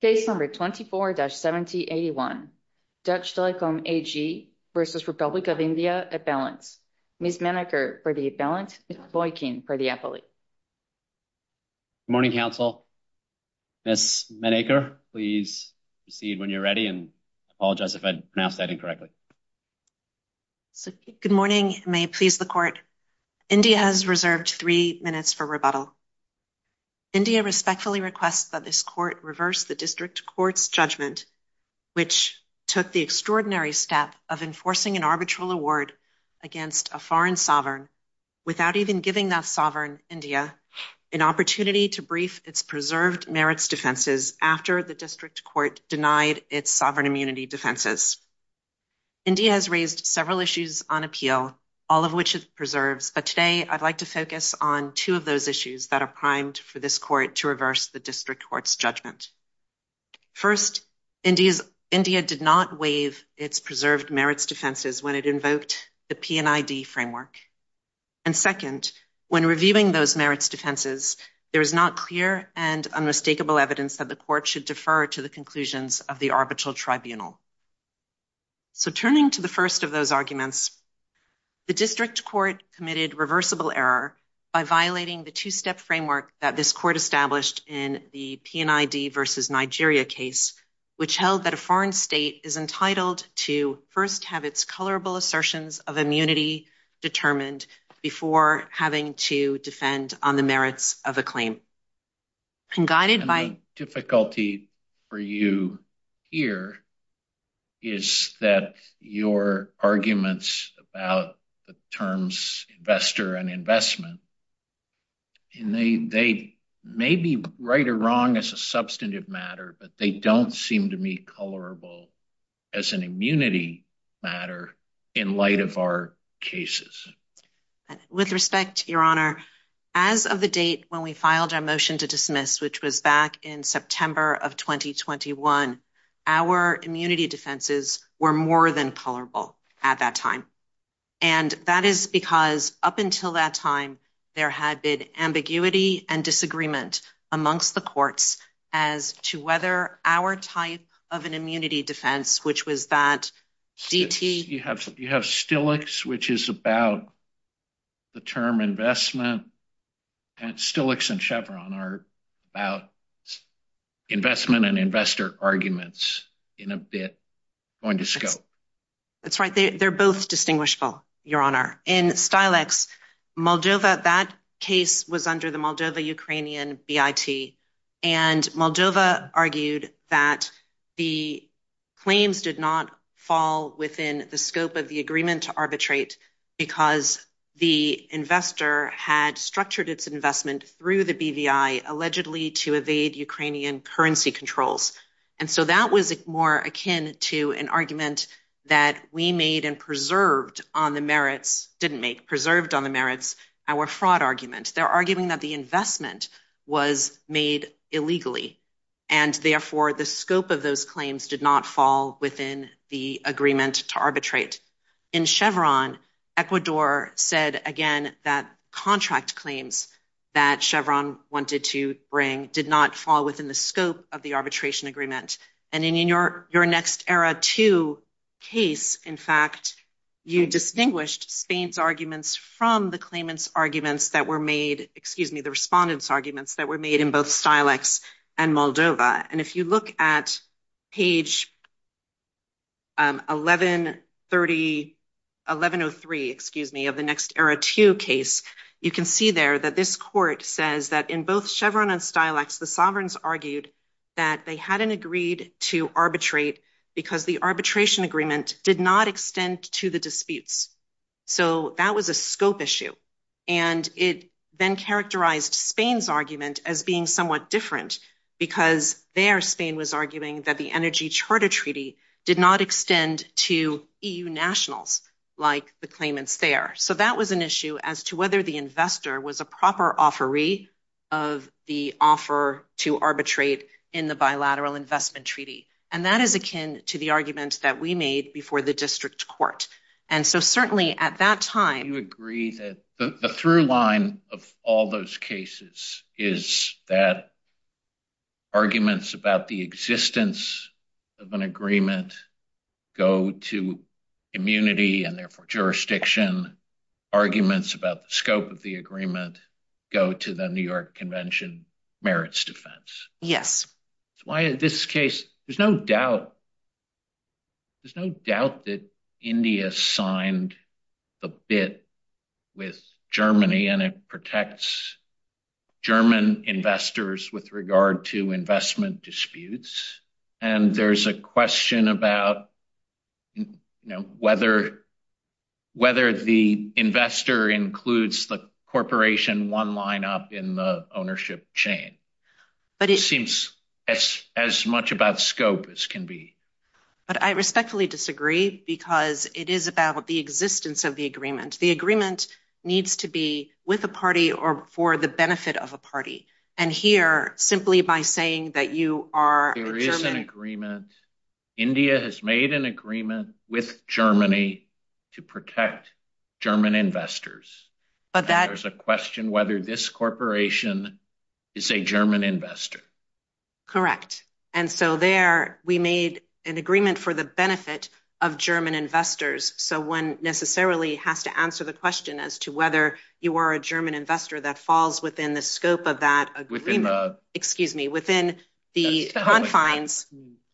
Case No. 24-7081, Dutch Telekom, A.G. v. Republic of India, Avalanche. Ms. Menaker for the Avalanche, Ms. Boykin for the Appellate. Good morning, counsel. Ms. Menaker, please proceed when you're ready, and I apologize if I pronounced that incorrectly. Good morning, and may it please the court. India has reserved three minutes for rebuttal. India respectfully requests that this court reverse the district court's judgment, which took the extraordinary step of enforcing an arbitral award against a foreign sovereign, without even giving that sovereign, India, an opportunity to brief its preserved merits defenses after the district court denied its sovereign immunity defenses. India has raised several issues on appeal, all of which is preserved, but today I'd like to focus on two of those issues that are primed for this court to reverse the district court's judgment. First, India did not waive its preserved merits defenses when it invoked the P&ID framework. And second, when reviewing those merits defenses, there is not clear and unmistakable evidence that the court should defer to the conclusions of the arbitral tribunal. So turning to the first of those arguments, the district court committed reversible error by violating the two-step framework that this court established in the P&ID versus Nigeria case, which held that a foreign state is entitled to first have its colorable assertions of immunity determined before having to defend on the merits of a claim. The difficulty for you here is that your arguments about the terms investor and investment, they may be right or wrong as a substantive matter, but they don't seem to be colorable as an immunity matter in light of our cases. With respect, Your Honor, as of the date when we filed our motion to dismiss, which was back in September of 2021, our immunity defenses were more than colorable at that time. And that is because up until that time, there had been ambiguity and disagreement amongst the courts as to whether our type of an immunity defense, which was that CT... You have Stilix, which is about the term investment. Stilix and Chevron are about investment and investor arguments in a bit, going to scope. That's right. They're both distinguishable, Your Honor. In Stilix, Moldova, that case was under the Moldova-Ukrainian BIT. And Moldova argued that the claims did not fall within the scope of the agreement to arbitrate because the investor had structured its investment through the BVI, allegedly to evade Ukrainian currency controls. And so that was more akin to an argument that we made and preserved on the merits, didn't make, preserved on the merits, our fraud argument. They're arguing that the investment was made illegally. And therefore, the scope of those claims did not fall within the agreement to arbitrate. In Chevron, Ecuador said, again, that contract claims that Chevron wanted to bring did not fall within the scope of the arbitration agreement. And in your Next Era II case, in fact, you distinguished Spain's arguments from the claimant's arguments that were made, excuse me, the respondent's arguments that were made in both Stilix and Moldova. And if you look at page 1130, 1103, excuse me, of the Next Era II case, you can see there that this court says that in both Chevron and Stilix, the sovereigns argued that they hadn't agreed to arbitrate because the arbitration agreement did not extend to the disputes. So that was a scope issue. And it then characterized Spain's argument as being somewhat different because there Spain was arguing that the energy charter treaty did not extend to EU nationals like the claimants there. So that was an issue as to whether the investor was a proper offeree of the offer to arbitrate in the bilateral investment treaty. And that is akin to the argument that we made before the district court. And so certainly at that time... You agree that the through line of all those cases is that arguments about the existence of an agreement go to immunity and therefore jurisdiction. Arguments about the scope of the agreement go to the New York Convention merits defense. Yes. That's why in this case, there's no doubt... There's no doubt that India signed the bid with Germany and it protects German investors with regard to investment disputes. And there's a question about whether the investor includes the corporation one line up in the ownership chain. It seems as much about scope as can be. But I respectfully disagree because it is about the existence of the agreement. The agreement needs to be with a party or for the benefit of a party. And here, simply by saying that you are... There is an agreement. India has made an agreement with Germany to protect German investors. There's a question whether this corporation is a German investor. Correct. And so there, we made an agreement for the benefit of German investors. So one necessarily has to answer the question as to whether you are a German investor that falls within the scope of that agreement. Excuse me, within the confines.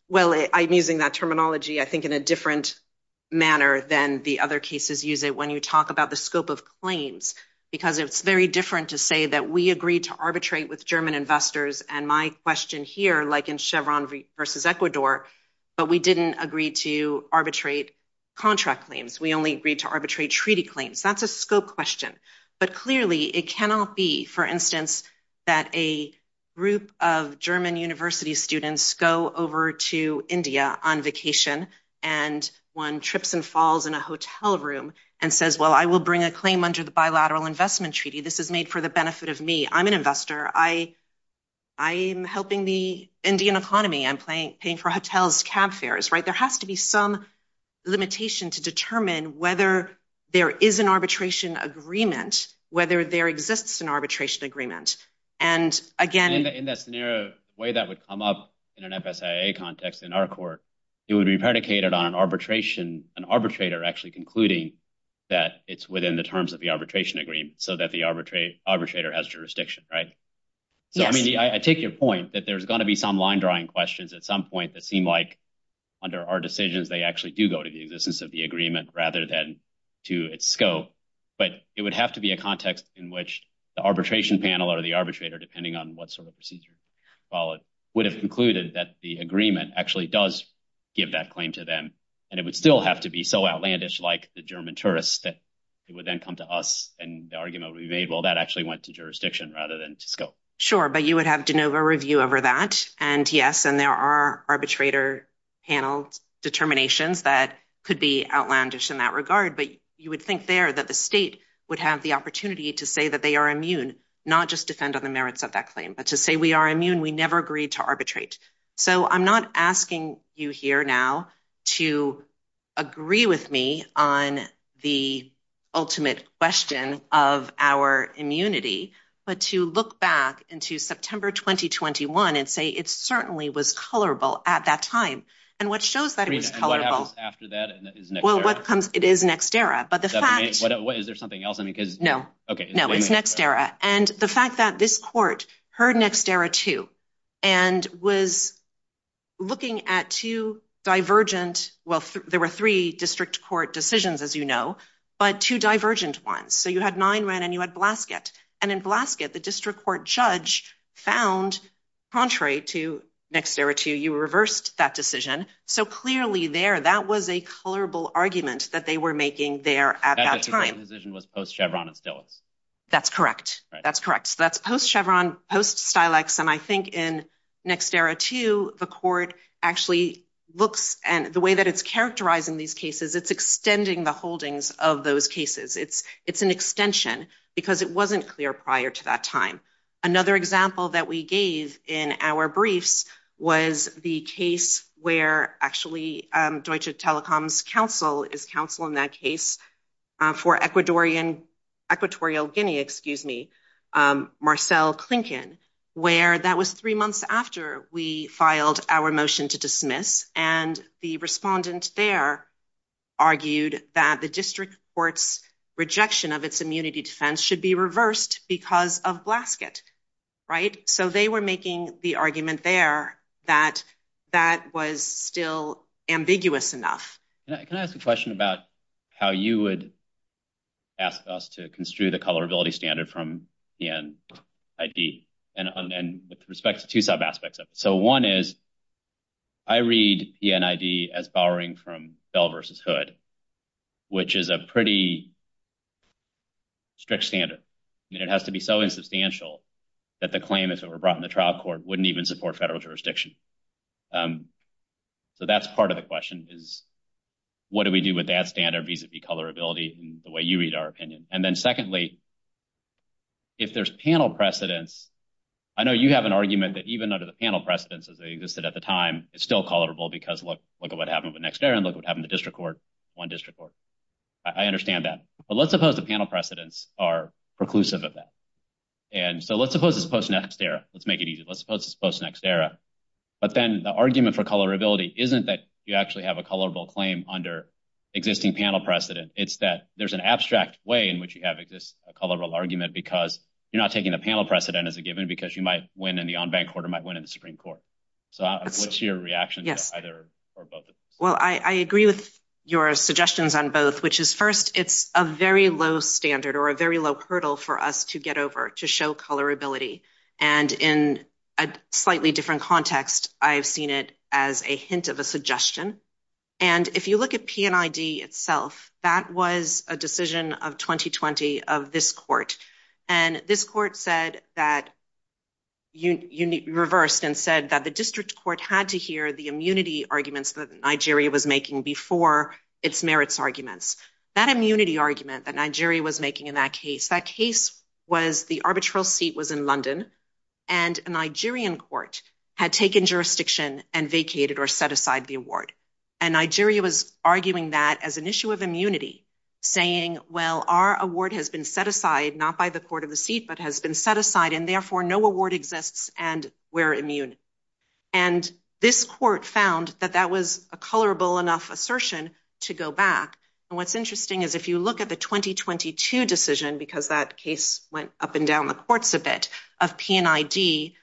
Well, I'm using that terminology, I think, in a different manner than the other cases use it. When you talk about the scope of claims, because it's very different to say that we agreed to arbitrate with German investors. And my question here, like in Chevron versus Ecuador, but we didn't agree to arbitrate contract claims. We only agreed to arbitrate treaty claims. That's a scope question. But clearly, it cannot be, for instance, that a group of German university students go over to India on vacation and one trips and falls in a hotel room and says, well, I will bring a claim under the bilateral investment treaty. This is made for the benefit of me. I'm an investor. I'm helping the Indian economy. I'm paying for hotels, cab fares, right? There has to be some limitation to determine whether there is an arbitration agreement, whether there exists an arbitration agreement. And again... In that scenario, the way that would come up in an FSIA context in our court, it would be predicated on an arbitrator actually concluding that it's within the terms of the arbitration agreement so that the arbitrator has jurisdiction, right? I mean, I take your point that there's going to be some line-drawing questions at some point that seem like, under our decisions, they actually do go to the existence of the agreement rather than to its scope. But it would have to be a context in which the arbitration panel or the arbitrator, depending on what sort of procedure you call it, would have concluded that the agreement actually does give that claim to them. And it would still have to be so outlandish like the German tourists that it would then come to us and the argument would be made, well, that actually went to jurisdiction rather than to scope. Sure, but you would have de novo review over that. And yes, and there are arbitrator panel determinations that could be outlandish in that regard. But you would think there that the state would have the opportunity to say that they are immune, not just depend on the merits of that claim, but to say we are immune, we never agreed to arbitrate. So I'm not asking you here now to agree with me on the ultimate question of our immunity, but to look back into September 2021 and say it certainly was colorable at that time. And what shows that it was colorable... And what happens after that is next era. Well, it is next era, but the fact... Is there something else? No, it's next era. And the fact that this court heard next era too and was looking at two divergent... Well, there were three district court decisions, as you know, but two divergent ones. So you had Nineran and you had Blasket. And in Blasket, the district court judge found, contrary to next era too, you reversed that decision. So clearly there, that was a colorable argument that they were making there at that time. The court decision was post-Chevron and still. That's correct. That's correct. So that's post-Chevron, post-Stilax. And I think in next era too, the court actually looks... And the way that it's characterized in these cases, it's extending the holdings of those cases. It's an extension because it wasn't clear prior to that time. Another example that we gave in our briefs was the case where actually Deutsche Telekom's counsel is counsel in that case for Equatorial Guinea, excuse me, Marcel Clinken, where that was three months after we filed our motion to dismiss. And the respondent there argued that the district court's rejection of its immunity defense should be reversed because of Blasket, right? So they were making the argument there that that was still ambiguous enough. Can I ask a question about how you would ask us to construe the colorability standard from the NID and with respect to two sub-aspects of it? So one is I read the NID as borrowing from Bell v. Hood, which is a pretty strict standard. I mean, it has to be so insubstantial that the claim that's overbrought in the trial court wouldn't even support federal jurisdiction. So that's part of the question, is what do we do with that standard vis-a-vis colorability in the way you read our opinion? And then secondly, if there's panel precedents, I know you have an argument that even under the panel precedents as they existed at the time, it's still colorable because look at what happened with Nexterra and look at what happened to district court on district court. I understand that. But let's suppose the panel precedents are preclusive of that. And so let's suppose it's post-Nexterra. Let's make it easy. Let's suppose it's post-Nexterra. But then the argument for colorability isn't that you actually have a colorable claim under existing panel precedent. It's that there's an abstract way in which you have a colorable argument because you're not taking the panel precedent as a given because you might win in the on-bank court or might win in the Supreme Court. So what's your reaction to either or both? Well, I agree with your suggestions on both, which is first, it's a very low standard or a very low hurdle for us to get over to show colorability. And in a slightly different context, I've seen it as a hint of a suggestion. And if you look at PNID itself, that was a decision of 2020 of this court. And this court said that, reversed and said that the district court had to hear the immunity arguments that Nigeria was making before its merits arguments. That immunity argument that Nigeria was making in that case, that case was the arbitral seat was in London and a Nigerian court had taken jurisdiction and vacated or set aside the award. And Nigeria was arguing that as an issue of immunity saying, well, our award has been set aside, not by the court of receipt, but has been set aside and therefore no award exists and we're immune. And this court found that that was a colorable enough assertion to go back. And what's interesting is if you look at the 2022 decision, because that case went up and down the courts a bit, of PNID,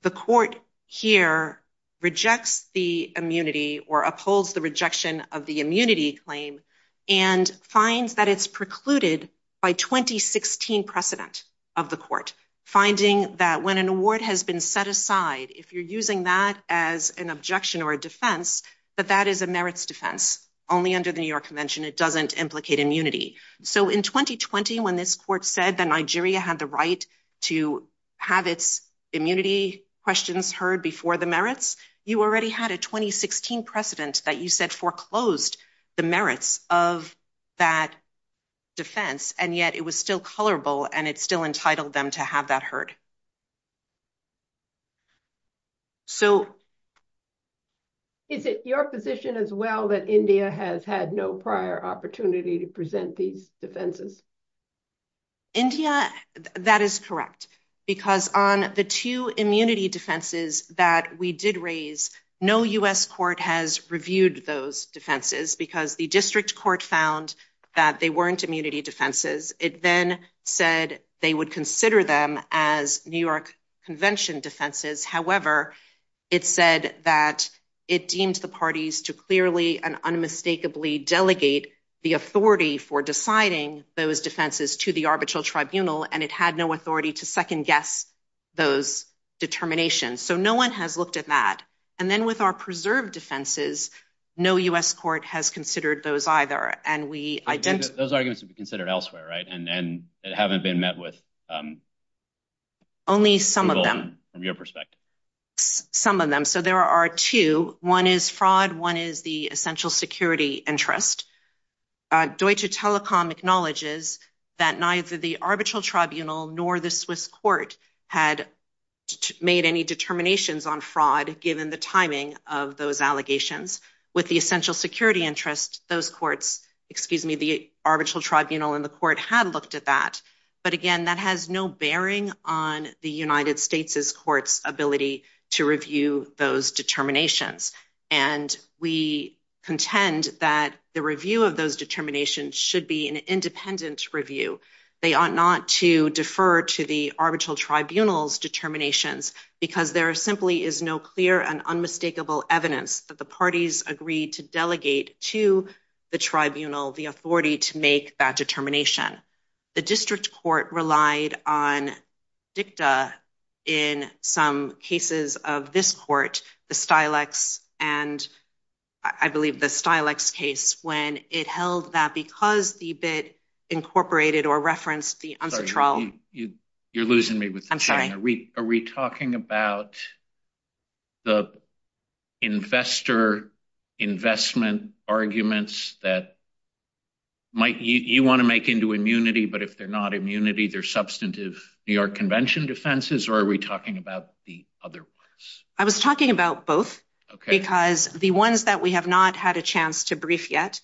the court here rejects the immunity or upholds the rejection of the immunity claim and finds that it's precluded by 2016 precedent of the court. Finding that when an award has been set aside, if you're using that as an objection or a defense, that that is a merits defense. Only under the New York convention, it doesn't implicate immunity. So in 2020, when this court said that Nigeria had the right to have its immunity questions heard before the merits, you already had a 2016 precedent that you said foreclosed the merits of that defense. And yet it was still colorable and it's still entitled them to have that heard. So is it your position as well that India has had no prior opportunity to present these defenses? India, that is correct. Because on the two immunity defenses that we did raise, no US court has reviewed those defenses because the district court found that they weren't immunity defenses. It then said they would consider them as New York convention defenses. However, it said that it deems the parties to clearly and unmistakably delegate the authority for deciding those defenses to the arbitral tribunal and it had no authority to second guess those determinations. So no one has looked at that. And then with our preserved defenses, no US court has considered those either. And we- Those arguments are considered elsewhere, right? And haven't been met with- Only some of them. From your perspective. Some of them. So there are two. One is fraud. One is the essential security interest. Deutsche Telekom acknowledges that neither the arbitral tribunal nor the Swiss court had made any determinations on fraud given the timing of those allegations. With the essential security interest, those courts- Excuse me, the arbitral tribunal and the court have looked at that. But again, that has no bearing on the United States' court's ability to review those determinations. And we contend that the review of those determinations should be an independent review. They ought not to defer to the arbitral tribunal's determinations because there simply is no clear and unmistakable evidence that the parties agreed to delegate to the tribunal the authority to make that determination. The district court relied on dicta in some cases of this court, the Stilex, and I believe the Stilex case, when it held that because the bid incorporated or referenced the arbitral- You're losing me. I'm sorry. Are we talking about the investor investment arguments that you want to make into immunity, but if they're not immunity, are they either substantive New York Convention defenses or are we talking about the other ones? I was talking about both because the ones that we have not had a chance to brief yet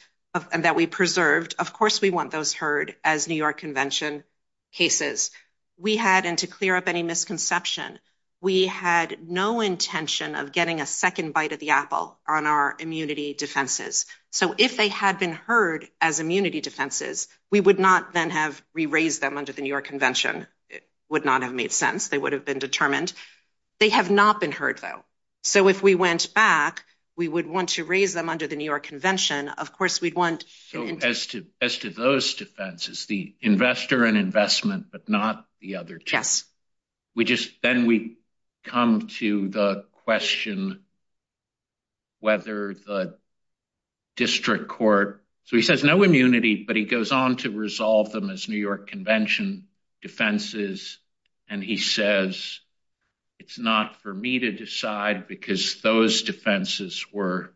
and that we preserved, of course we want those heard as New York Convention cases. We had, and to clear up any misconception, we had no intention of getting a second bite of the apple on our immunity defenses. So if they had been heard as immunity defenses, we would not then have re-raised them under the New York Convention. It would not have made sense. They would have been determined. They have not been heard, though. So if we went back, we would want to raise them under the New York Convention. Of course, we'd want- So as to those defenses, the investor and investment, but not the other two. Yes. Then we come to the question whether the district court- He goes on to resolve them as New York Convention defenses and he says, it's not for me to decide because those defenses were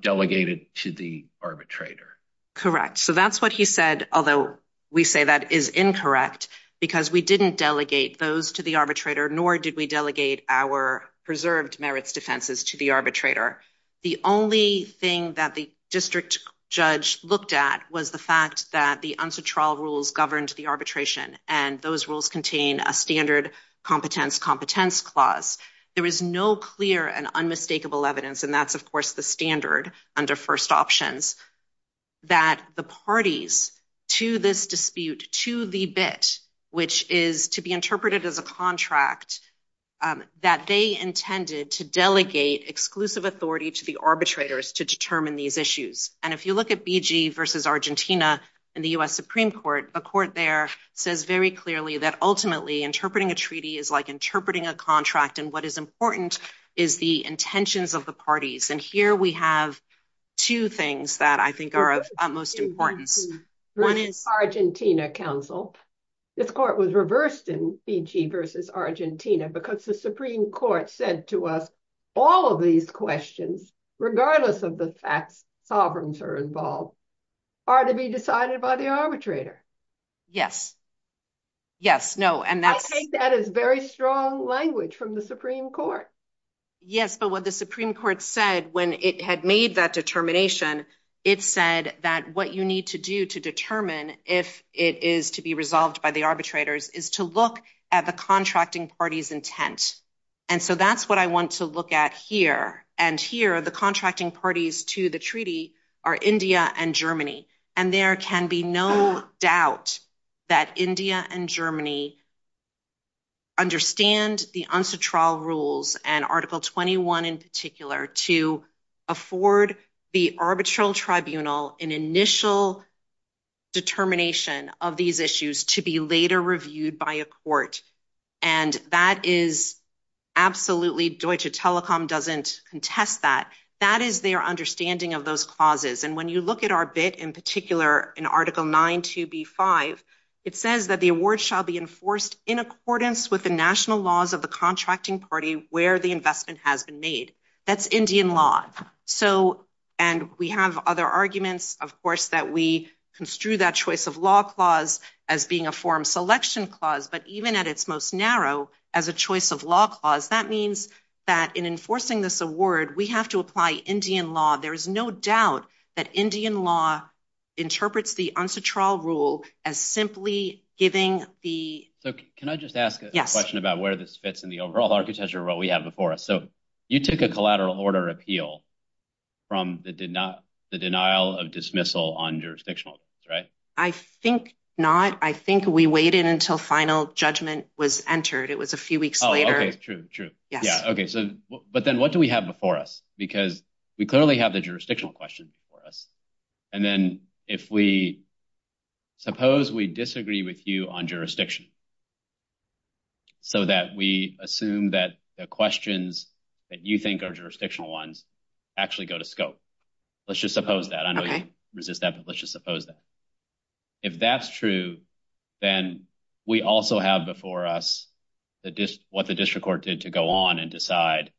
delegated to the arbitrator. Correct. So that's what he said, although we say that is incorrect because we didn't delegate those to the arbitrator, nor did we delegate our preserved merits defenses to the arbitrator. The only thing that the district judge looked at was the fact that the unsuitable rules governed the arbitration and those rules contain a standard competence-competence clause. There is no clear and unmistakable evidence, and that's, of course, the standard under first options, that the parties to this dispute to the bit, which is to be interpreted as a contract, that they intended to delegate exclusive authority to the arbitrators to determine these issues. If you look at BG versus Argentina in the US Supreme Court, a court there says very clearly that ultimately interpreting a treaty is like interpreting a contract and what is important is the intentions of the parties. Here we have two things that I think are of utmost importance. One is Argentina Council. This court was reversed in BG versus Argentina because the Supreme Court said to us, all of these questions, regardless of the fact sovereigns are involved, are to be decided by the arbitrator. Yes. Yes. No. I take that as very strong language from the Supreme Court. Yes, but what the Supreme Court said when it had made that determination, it said that what you need to do to determine if it is to be resolved by the arbitrators is to look at the contracting party's intent. And so that's what I want to look at here. And here, the contracting parties to the treaty are India and Germany. And there can be no doubt that India and Germany understand the UNCTRA rules and Article 21 in particular to afford the arbitral tribunal an initial determination of these issues to be later reviewed by a court. And that is absolutely, Deutsche Telekom doesn't contest that. That is their understanding of those clauses. And when you look at our bit in particular, in Article 9 to B5, it says that the award shall be enforced in accordance with the national laws of the contracting party where the investment has been made. That's Indian law. So, and we have other arguments, of course, that we construe that choice of law clause as being a form selection clause, but even at its most narrow, as a choice of law clause, that means that in enforcing this award, we have to apply Indian law. There is no doubt that Indian law interprets the UNCTRA rule as simply giving the... So, can I just ask a question about where this fits in the overall architecture of what we have before us? So, you took a collateral order appeal from the denial of dismissal on jurisdictional terms, right? I think not. I think we waited until final judgment was entered. It was a few weeks later. Oh, okay, true, true. Yeah. Okay, so, but then what do we have before us? Because we clearly have the jurisdictional questions before us. And then if we... Suppose we disagree with you on jurisdiction so that we assume that the questions that you think are jurisdictional ones actually go to scope. Let's just suppose that. I know you resist that, but let's just suppose that. If that's true, then we also have before us what the district court did to go on and decide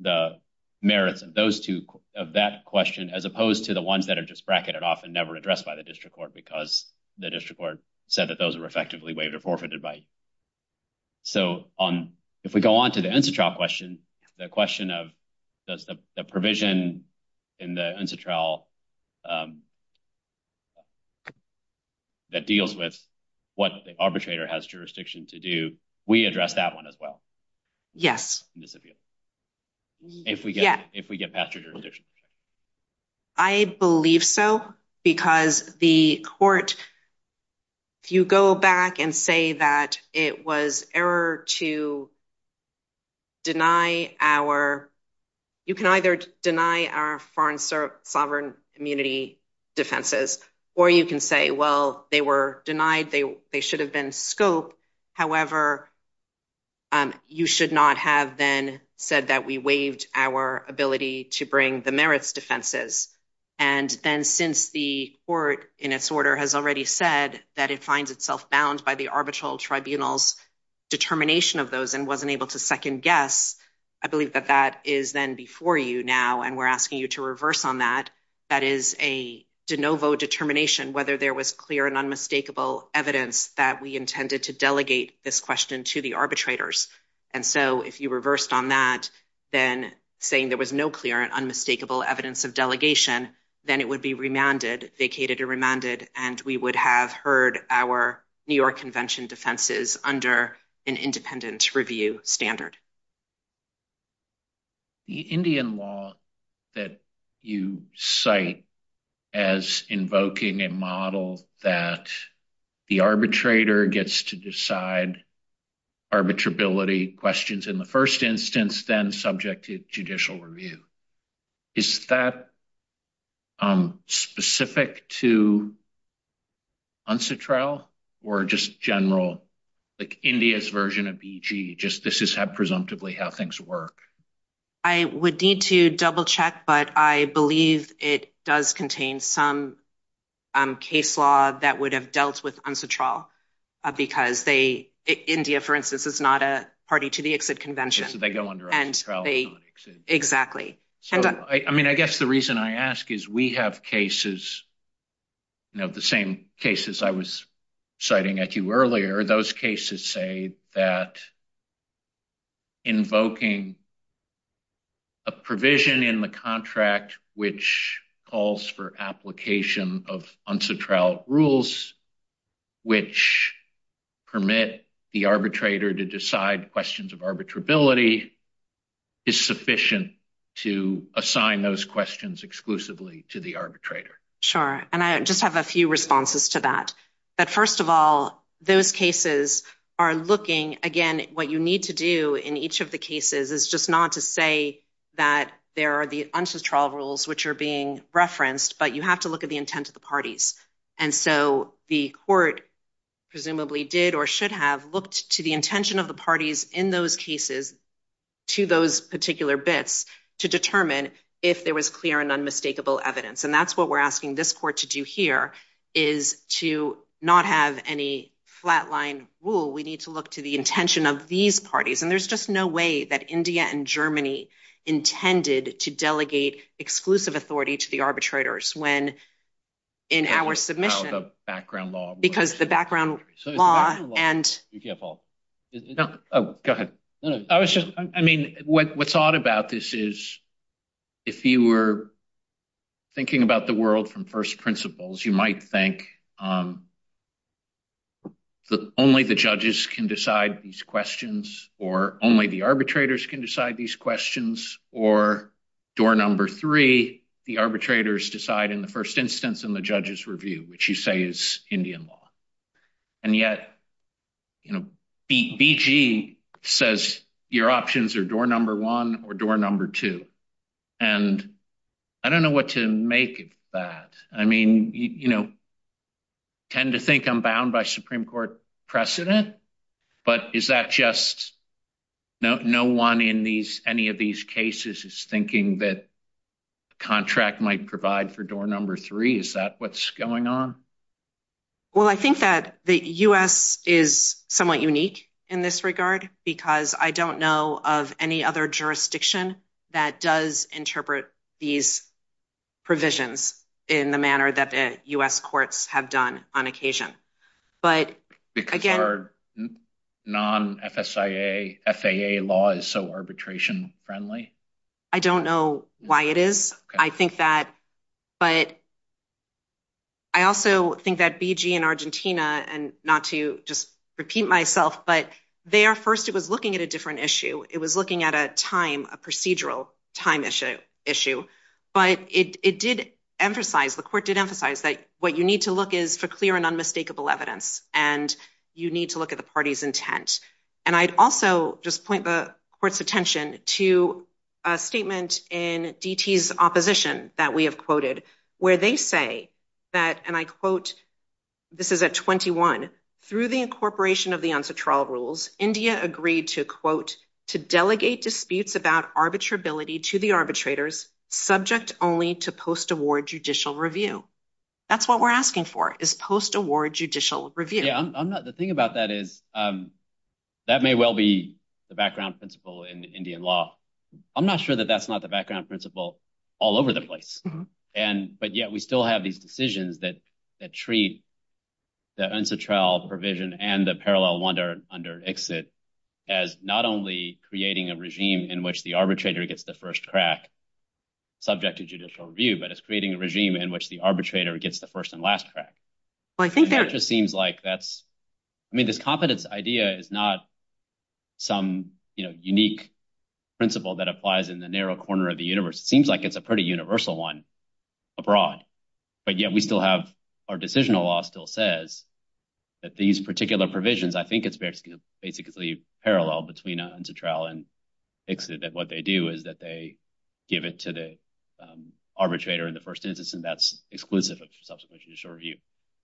the merits of that question as opposed to the ones that are just bracketed off and never addressed by the district court because the district court said that those were effectively waiver forfeit advice. So, if we go on to the UNCTRA question, the question of does the provision in the UNCTRA that deals with what the arbitrator has jurisdiction to do, we address that one as well. Yes. If we get past your jurisdiction. I believe so because the court, if you go back and say that it was error to deny our... You can either deny our foreign sovereign immunity defenses or you can say, well, they were denied. They should have been scoped. However, you should not have then said that we waived our ability to bring the merits defenses. And then since the court in its order has already said that it finds itself bound by the arbitral tribunal's determination of those and wasn't able to second guess, I believe that that is then before you now and we're asking you to reverse on that. That is a de novo determination, whether there was clear and unmistakable evidence that we intended to delegate this question to the arbitrators. And so, if you reversed on that, then saying there was no clear and unmistakable evidence of delegation, then it would be remanded, vacated and remanded, and we would have heard our New York Convention defenses under an independent review standard. The Indian law that you cite as invoking a model that the arbitrator gets to decide arbitrability questions in the first instance, then subject to judicial review, is that specific to UNSATRAL or just general India's version of EG? This is presumptively how things work. I would need to double check, but I believe it does contain some case law that would have dealt with UNSATRAL because India, for instance, is not a party to the exit convention. So they go under UNSATRAL. Exactly. I guess the reason I ask is we have cases, the same cases I was citing at you earlier. Those cases say that invoking a provision in the contract which calls for application of UNSATRAL rules which permit the arbitrator to decide questions of arbitrability is sufficient to assign those questions exclusively to the arbitrator. Sure. I just have a few responses to that. First of all, those cases are looking, again, what you need to do in each of the cases is just not to say that there are the UNSATRAL rules which are being referenced, but you have to look at the intent of the parties. So the court presumably did or should have looked to the intention of the parties in those cases to those particular bits to determine if there was clear and unmistakable evidence. And that's what we're asking this court to do here is to not have any flatline rule. We need to look to the intention of these parties. And there's just no way that India and Germany intended to delegate exclusive authority to the arbitrators when in our submission. The background law. Because the background law and... Yeah, Paul. Oh, go ahead. I was just, I mean, what's odd about this is if you were thinking about the world from first principles, you might think that only the judges can decide these questions or only the arbitrators can decide these questions or door number three, the arbitrators decide in the first instance in the judge's review, which you say is Indian law. And yet, you know, BG says your options are door number one or door number two. And I don't know what to make of that. I mean, you know, tend to think I'm bound by Supreme Court precedent, but is that just no one in these, any of these cases is thinking that contract might provide for door number three. Is that what's going on? Well, I think that the U.S. is somewhat unique in this regard because I don't know of any other jurisdiction that does interpret these provisions in the manner that the U.S. courts have done on occasion. But again... Because our non-FSAA law is so arbitration friendly? I don't know why it is. I think that, but... I also think that BG in Argentina, and not to just repeat myself, but there first it was looking at a different issue. It was looking at a time, a procedural time issue. But it did emphasize, the court did emphasize that what you need to look is for clear and unmistakable evidence and you need to look at the party's intent. And I'd also just point the court's attention to a statement in DT's opposition that we have quoted where they say that, and I quote, this is at 21, through the incorporation of the UNCTRA rules, India agreed to, quote, to delegate disputes about arbitrability to the arbitrators subject only to post-award judicial review. That's what we're asking for is post-award judicial review. Yeah, the thing about that is that may well be the background principle in Indian law. I'm not sure that that's not the background principle all over the place. But yet we still have these decisions that treat the UNCTRA provision and the parallel wonder under ICSID as not only creating a regime in which the arbitrator gets the first crack subject to judicial review, but it's creating a regime in which the arbitrator gets the first and last crack. It just seems like that's... I mean, this competence idea is not some unique principle that applies in the narrow corner of the universe. It seems like it's a pretty universal one abroad. But yet we still have, our decisional law still says that these particular provisions, I think it's basically parallel between UNCTRA and ICSID that what they do is that they give it to the arbitrator and the first citizen. That's exclusive of subsequent judicial review.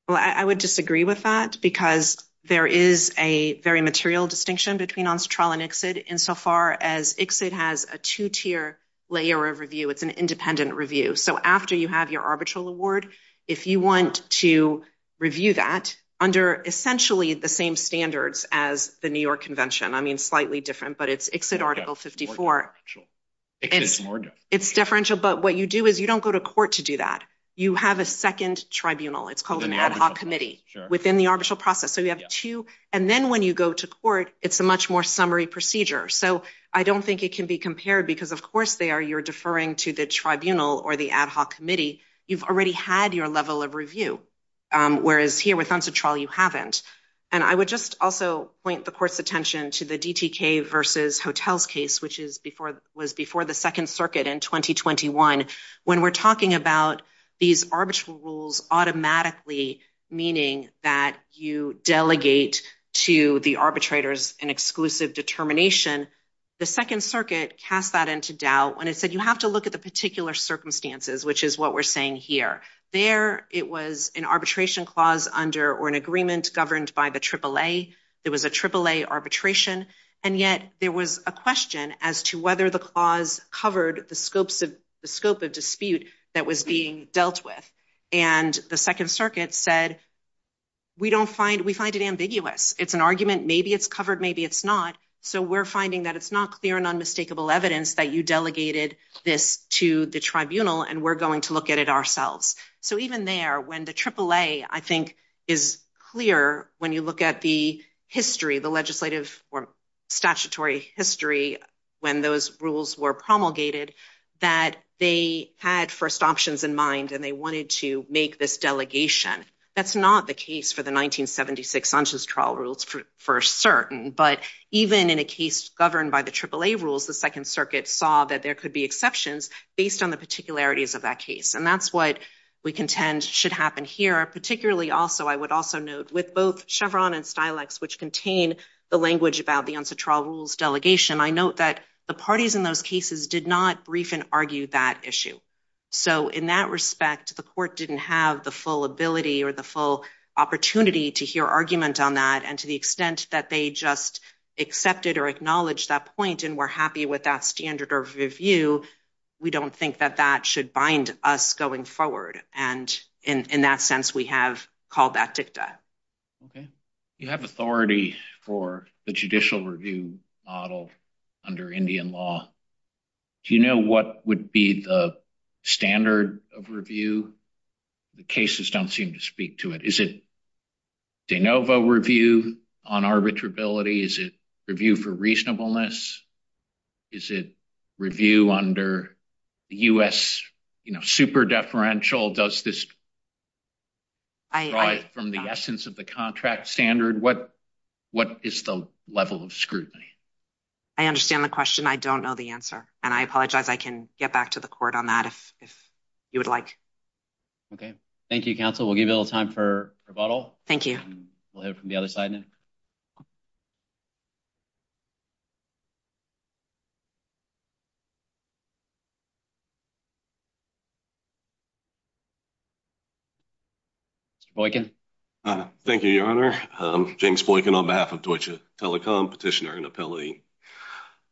Well, I would disagree with that because there is a very material distinction between UNCTRA and ICSID insofar as ICSID has a two-tier layer of review. It's an independent review. So after you have your arbitral award, if you want to review that under essentially the same standards as the New York Convention, I mean, slightly different, but it's ICSID Article 54. It's differential, but what you do is you don't go to court to do that. You have a second tribunal. It's called an ad hoc committee within the arbitral process. So you have two. And then when you go to court, it's a much more summary procedure. So I don't think it can be compared because of course there you're deferring to the tribunal or the ad hoc committee. You've already had your level of review. Whereas here with UNCTRA, you haven't. And I would just also point the court's attention to the DTK versus hotels case, which was before the second circuit in 2021. When we're talking about these arbitral rules automatically, meaning that you delegate to the arbitrators an exclusive determination, the second circuit cast that into doubt when it said you have to look at the particular circumstances, which is what we're saying here. There, it was an arbitration clause under or an agreement governed by the AAA. It was a AAA arbitration. And yet there was a question as to whether the clause covered the scope of dispute that was being dealt with. And the second circuit said, we find it ambiguous. It's an argument, maybe it's covered, maybe it's not. So we're finding that it's not clear and unmistakable evidence that you delegated this to the tribunal and we're going to look at it ourselves. So even there when the AAA, I think is clear when you look at the history, the legislative or statutory history, when those rules were promulgated that they had first options in mind and they wanted to make this delegation. That's not the case for the 1976 Ancestral Rules for certain. But even in a case governed by the AAA rules, the second circuit saw that there could be exceptions based on the particularities of that case. And that's what we contend should happen here. Particularly also, I would also note with both Chevron and Silex, which contain the language about the Ancestral Rules delegation, I note that the parties in those cases did not brief and argue that issue. So in that respect, the court didn't have the full ability or the full opportunity to hear argument on that. And to the extent that they just accepted or acknowledged that point and were happy with that standard of review, we don't think that that should bind us going forward. And in that sense, we have called that dicta. Okay. You have authority for the judicial review model under Indian law. Do you know what would be the standard of review? The cases don't seem to speak to it. Is it de novo review on arbitrability? Is it review for reasonableness? Is it review under the US super deferential? Does this derive from the essence of the contract standard? What is the level of scrutiny? I understand the question. I don't know the answer. And I apologize. I can get back to the court on that if you would like. Okay. Thank you, counsel. We'll give you a little time for rebuttal. Thank you. We'll hear from the other side in a minute. James Boykin. Thank you, Your Honor. I'm James Boykin on behalf of Deutsche Telekom, petitioner and appellee.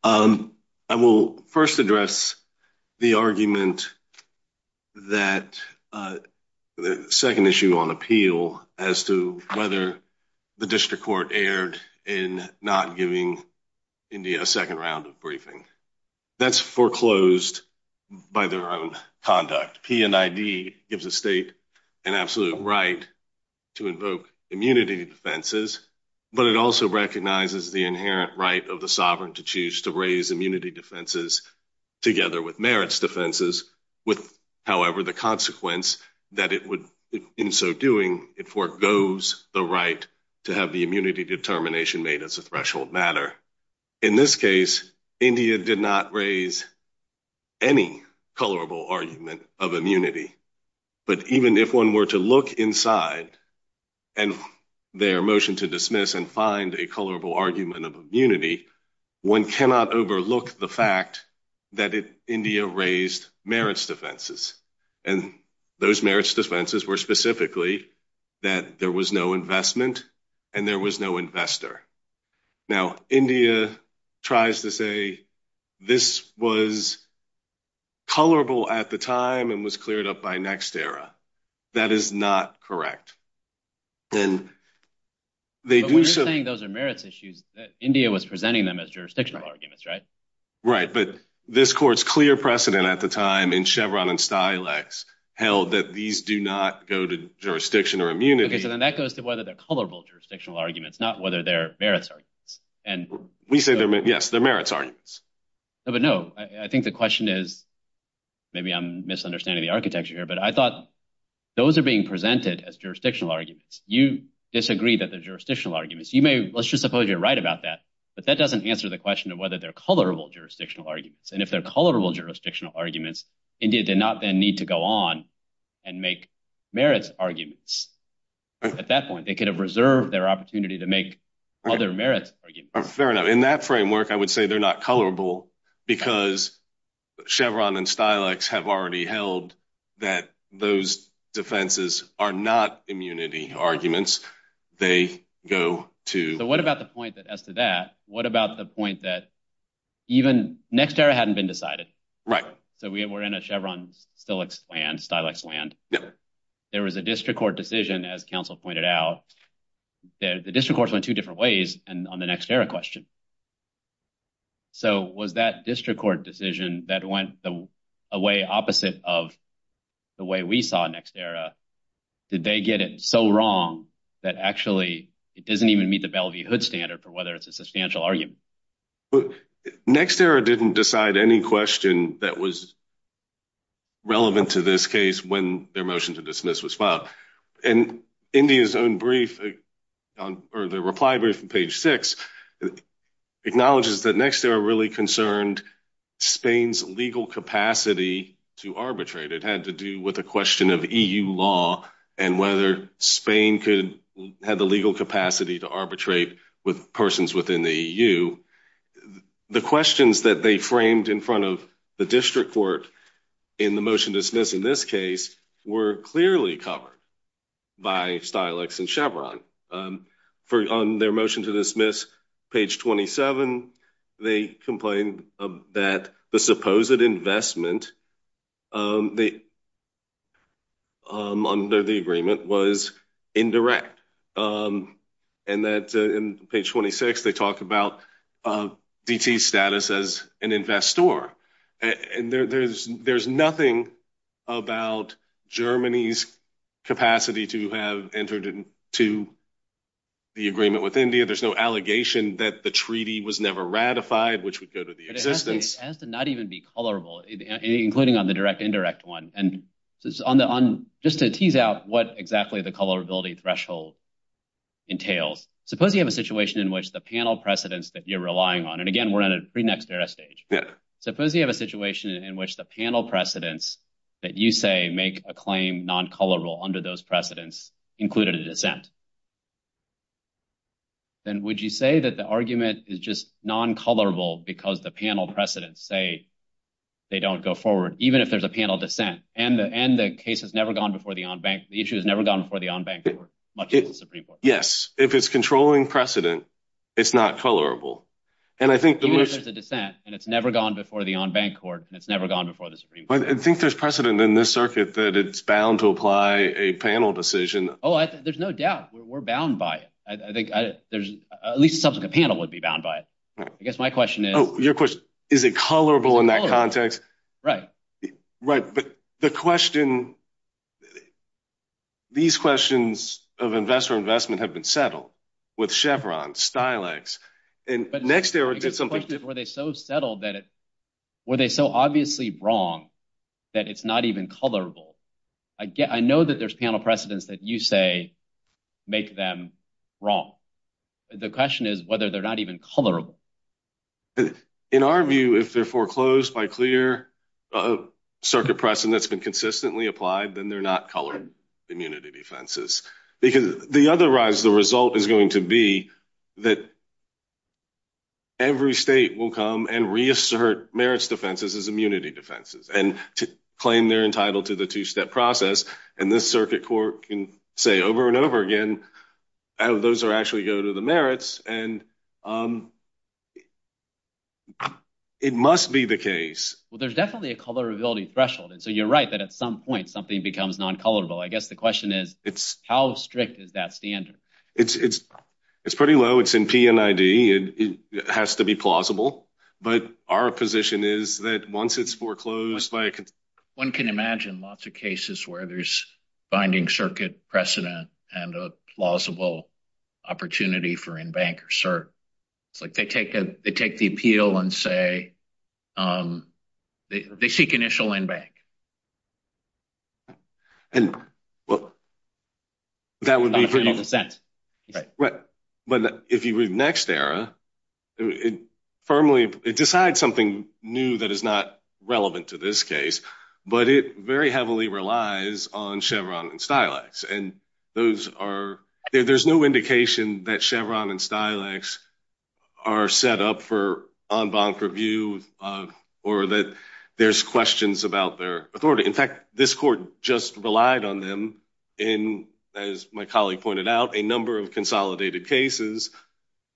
I will first address the argument that the second issue on appeal as to whether the district court erred in not giving India a second round of briefing. That's foreclosed by their own conduct. P&ID gives the state an absolute right to invoke immunity defenses, but it also recognizes the inherent right of the sovereign to choose to raise immunity defenses together with merits defenses. However, the consequence that it would in so doing, it foregoes the right to have the immunity determination made as a threshold matter. In this case, India did not raise any colorable argument of immunity, but even if one were to look inside and their motion to dismiss and find a colorable argument of immunity, one cannot overlook the fact that India raised merits defenses. And those merits defenses were specifically that there was no investment and there was no investor. Now India tries to say this was colorable at the time and was cleared up by next era. That is not correct. And they do say those are merits issues. India was presenting them as jurisdictional arguments, right? Right. But this court's clear precedent at the time in Chevron and Stilex held that these do not go to jurisdiction or immunity. And then that goes to whether the colorable jurisdictional arguments, not whether they're merits. And we say, yes, the merits arguments. But no, I think the question is maybe I'm misunderstanding the architecture here, but I thought those are being presented as jurisdictional arguments. You disagree that the jurisdictional arguments you may, let's just suppose you're right about that, but that doesn't answer the question of whether they're colorable jurisdictional arguments. And if they're colorable jurisdictional arguments, India did not then need to go on and make merits arguments. Definitely. It could have reserved their opportunity to make other merits. Fair enough. In that framework, I would say they're not colorable because Chevron and Stilex have already held that those defenses are not immunity arguments. They go to... But what about the point that as to that, what about the point that even next era hadn't been decided? Right. So we were in a Chevron-Stilex land. Yep. There was a district court decision, as counsel pointed out, that the district courts went two different ways on the next era question. So was that district court decision that went the way opposite of the way we saw next era, did they get it so wrong that actually it doesn't even meet the Bellevue Hood standard for whether it's a substantial argument. Next era didn't decide any question that was relevant to this case when their motion to dismiss was filed. And India's own brief, or the reply brief from page six acknowledges that next era really concerned Spain's legal capacity to arbitrate. It had to do with a question of EU law and whether Spain could have the legal capacity to arbitrate with persons within the EU. The questions that they framed in front of the district court in the motion to dismiss in this case were clearly covered by Stilex and Chevron. On their motion to dismiss, page 27, they complained that the supposed investment under the agreement was indirect. And that in page 26, they talked about BT's status as an investor. I'm not sure. And there's nothing about Germany's capacity to have entered into the agreement with India. There's no allegation that the treaty was never ratified, which would go to the existence. It has to not even be colorable, including on the direct indirect one. And just to tease out what exactly the colorability threshold entails, suppose you have a situation in which the panel precedents that you're relying on, and again, we're in a pre-next era stage. Suppose you have a situation in which the panel precedents that you say make a claim non-colorable under those precedents included a dissent. Then would you say that the argument is just non-colorable because the panel precedents say they don't go forward, even if there's a panel dissent and the end, the case has never gone before the on bank. The issue has never gone before the on bank. Yes. If it's controlling precedent, it's not tolerable. And it's never gone before the on bank court and it's never gone before the Supreme court. I think there's precedent in this circuit that it's bound to apply a panel decision. Oh, there's no doubt. We're bound by it. I think there's at least a subsequent panel would be bound by it. I guess my question is, is it colorable in that context? Right. Right. But the question, these questions of investor investment have been settled with Chevron Stilex and next era did something. Were they so settled that it, were they so obviously wrong that it's not even colorable? I get, I know that there's panel precedents that you say make them wrong. The question is whether they're not even color. In our view, if they're foreclosed by clear circuit precedent that's been consistently applied, then they're not colored immunity defenses because the other rise, the result is going to be that every state will come and reassert merits defenses as immunity defenses and claim they're entitled to the two-step process. And this circuit court can say over and over again, those are actually go to the merits and it must be the case. Well, there's definitely a colorability threshold. And so you're right that at some point something becomes non-colorable. I guess the question is, it's how strict is that standard? It's, it's, it's pretty low. It's in PNID. It has to be plausible, but our position is that once it's foreclosed, one can imagine lots of cases where there's binding circuit precedent and a plausible opportunity for in bank or cert, like they take a, they take the appeal and say, um, they, they seek initial in bank and well, that would be pretty intense, right? But if you read next era, it firmly decides something new that is not relevant to this case, but it very heavily relies on Chevron and Stilex. And those are, there's no indication that Chevron and Stilex are set up for on bond for view of, or that there's questions about their authority. In fact, this court just relied on them in, as my colleague pointed out, a number of consolidated cases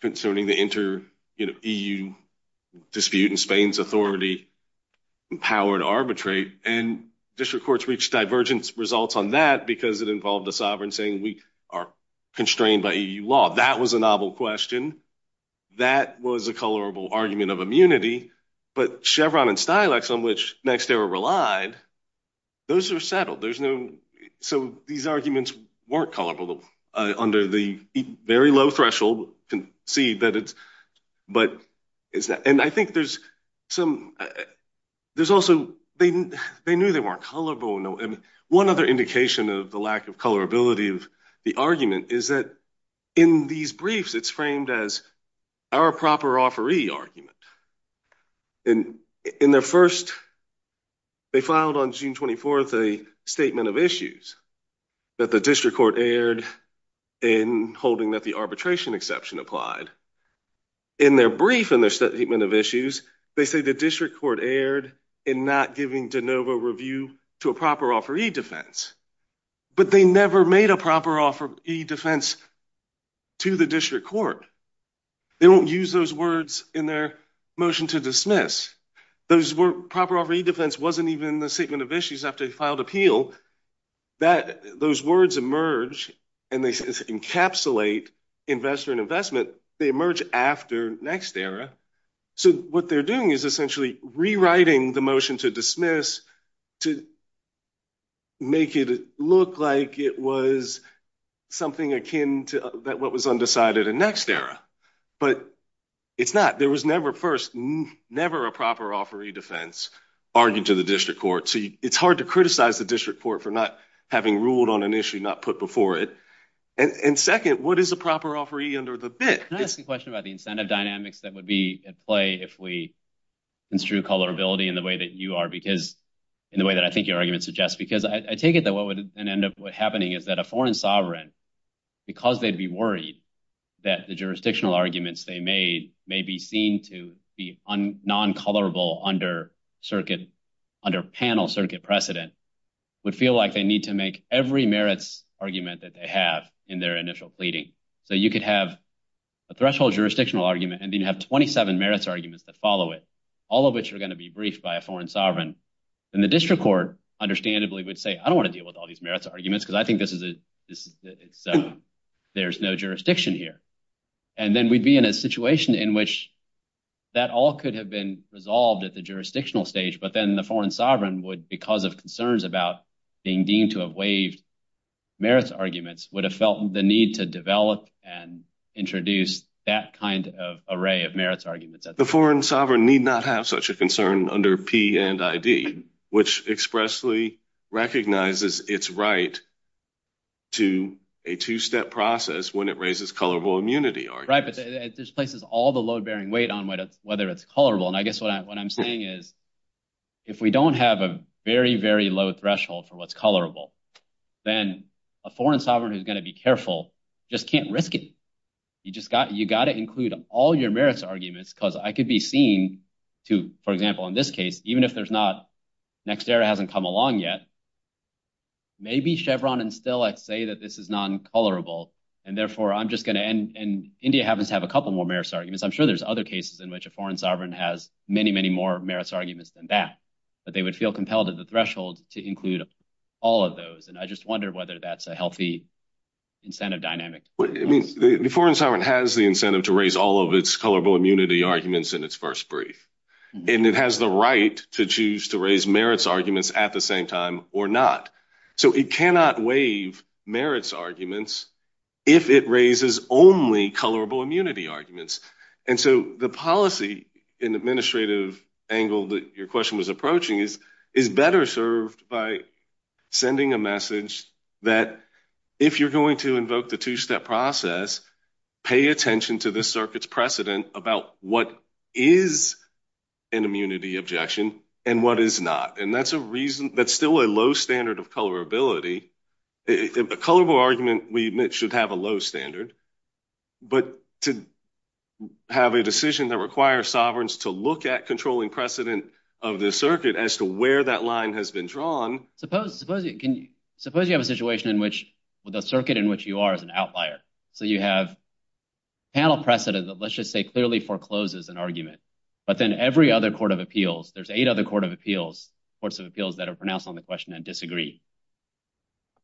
concerning the inter, you know, EU dispute in Spain's authority, power and arbitrate and district courts reached divergence results on that because it involved the sovereign saying we are constrained by EU law. That was a novel question. That was a colorable argument of immunity, but Chevron and Stilex on which next era relied, those are settled. There's no, so these arguments weren't colorful, uh, under the very low threshold and see that it's, but is that, and I think there's some, there's also, they knew they weren't colorful and one other indication of the lack of colorability of the argument is that in these briefs, it's framed as our proper offeree argument. And in the first, they filed on June 24th, a statement of issues that the district court aired in holding that the arbitration exception applied in their brief and their statement of issues. They say the district court aired in not giving DeNova review to a proper offeree defense, but they never made a proper offer E defense to the district court. They don't use those words in their motion to dismiss. Those were proper already defense. Wasn't even the statement of issues after they filed appeal that those words emerged and they encapsulate investor and investment. They emerge after next era. So what they're doing is essentially rewriting the motion to dismiss to make it look like it was something akin to that. What was undecided in next era, but it's not, there was never first, never a proper offer E defense argued to the district court. So it's hard to criticize the district court for not having ruled on an issue not put before it. And second, what is a proper offer E under the bit? Can I ask you a question about the incentive dynamics that would be at play if we intrude colorability in the way that you are, because in the way that I think your argument suggests, because I take it that what would end up happening is that a foreign sovereign because they'd be worried that the jurisdictional arguments they made may be seen to be non-colorable under circuit, under panel circuit precedent would feel like they need to make every merits argument that they have in their initial pleading. So you could have a threshold jurisdictional argument and then you have 27 merits arguments that follow it, all of which are going to be briefed by a foreign sovereign and the district court understandably would say, I don't want to deal with all these merits arguments because I think this is a, there's no jurisdiction here. And then we'd be in a situation in which that all could have been resolved at the jurisdictional stage, but then the foreign sovereign would because of concerns about being deemed to have waived merits arguments would have felt the need to develop and introduce that kind of array of merits arguments. The foreign sovereign need not have such a concern under P and ID, which expressly recognizes it's right to a two step process when it raises colorful immunity. Right. But it displaces all the load bearing weight on whether it's colorable. And I guess what I'm saying is if we don't have a very, very low threshold for what's colorable, then a foreign sovereign is going to be careful. Just can't risk it. You just got, you got to include all your merits arguments because I could be seen to, for example, in this case, even if there's not next era hasn't come along yet, maybe Chevron and still, I'd say that this is non colorable and therefore I'm just going to end. And India happens to have a couple more merits arguments. I'm sure there's other cases in which a foreign sovereign has many, many more merits arguments than that, but they would feel compelled at the threshold to include all of those. And I just wonder whether that's a healthy incentive dynamic. It means the foreign sovereign has the incentive to raise all of its Colorable immunity arguments in its first brief. And it has the right to choose to raise merits arguments at the same time or not. So it cannot waive merits arguments. If it raises only colorable immunity arguments. And so the policy in the administrative angle that your question was approaching is, is better served by sending a message that if you're going to invoke the two-step process, pay attention to this circuit's precedent about what is an immunity objection and what is not. And that's a reason that's still a low standard of colorability. If a colorable argument we admit should have a low standard, but to have a decision that requires sovereigns to look at controlling precedent of the circuit as to where that line has been drawn. Suppose you have a situation in which the circuit in which you are is an outlier. So you have panel precedent that let's just say clearly forecloses an argument, but then every other court of appeals, there's eight other courts of appeals that are pronounced on the question that disagree.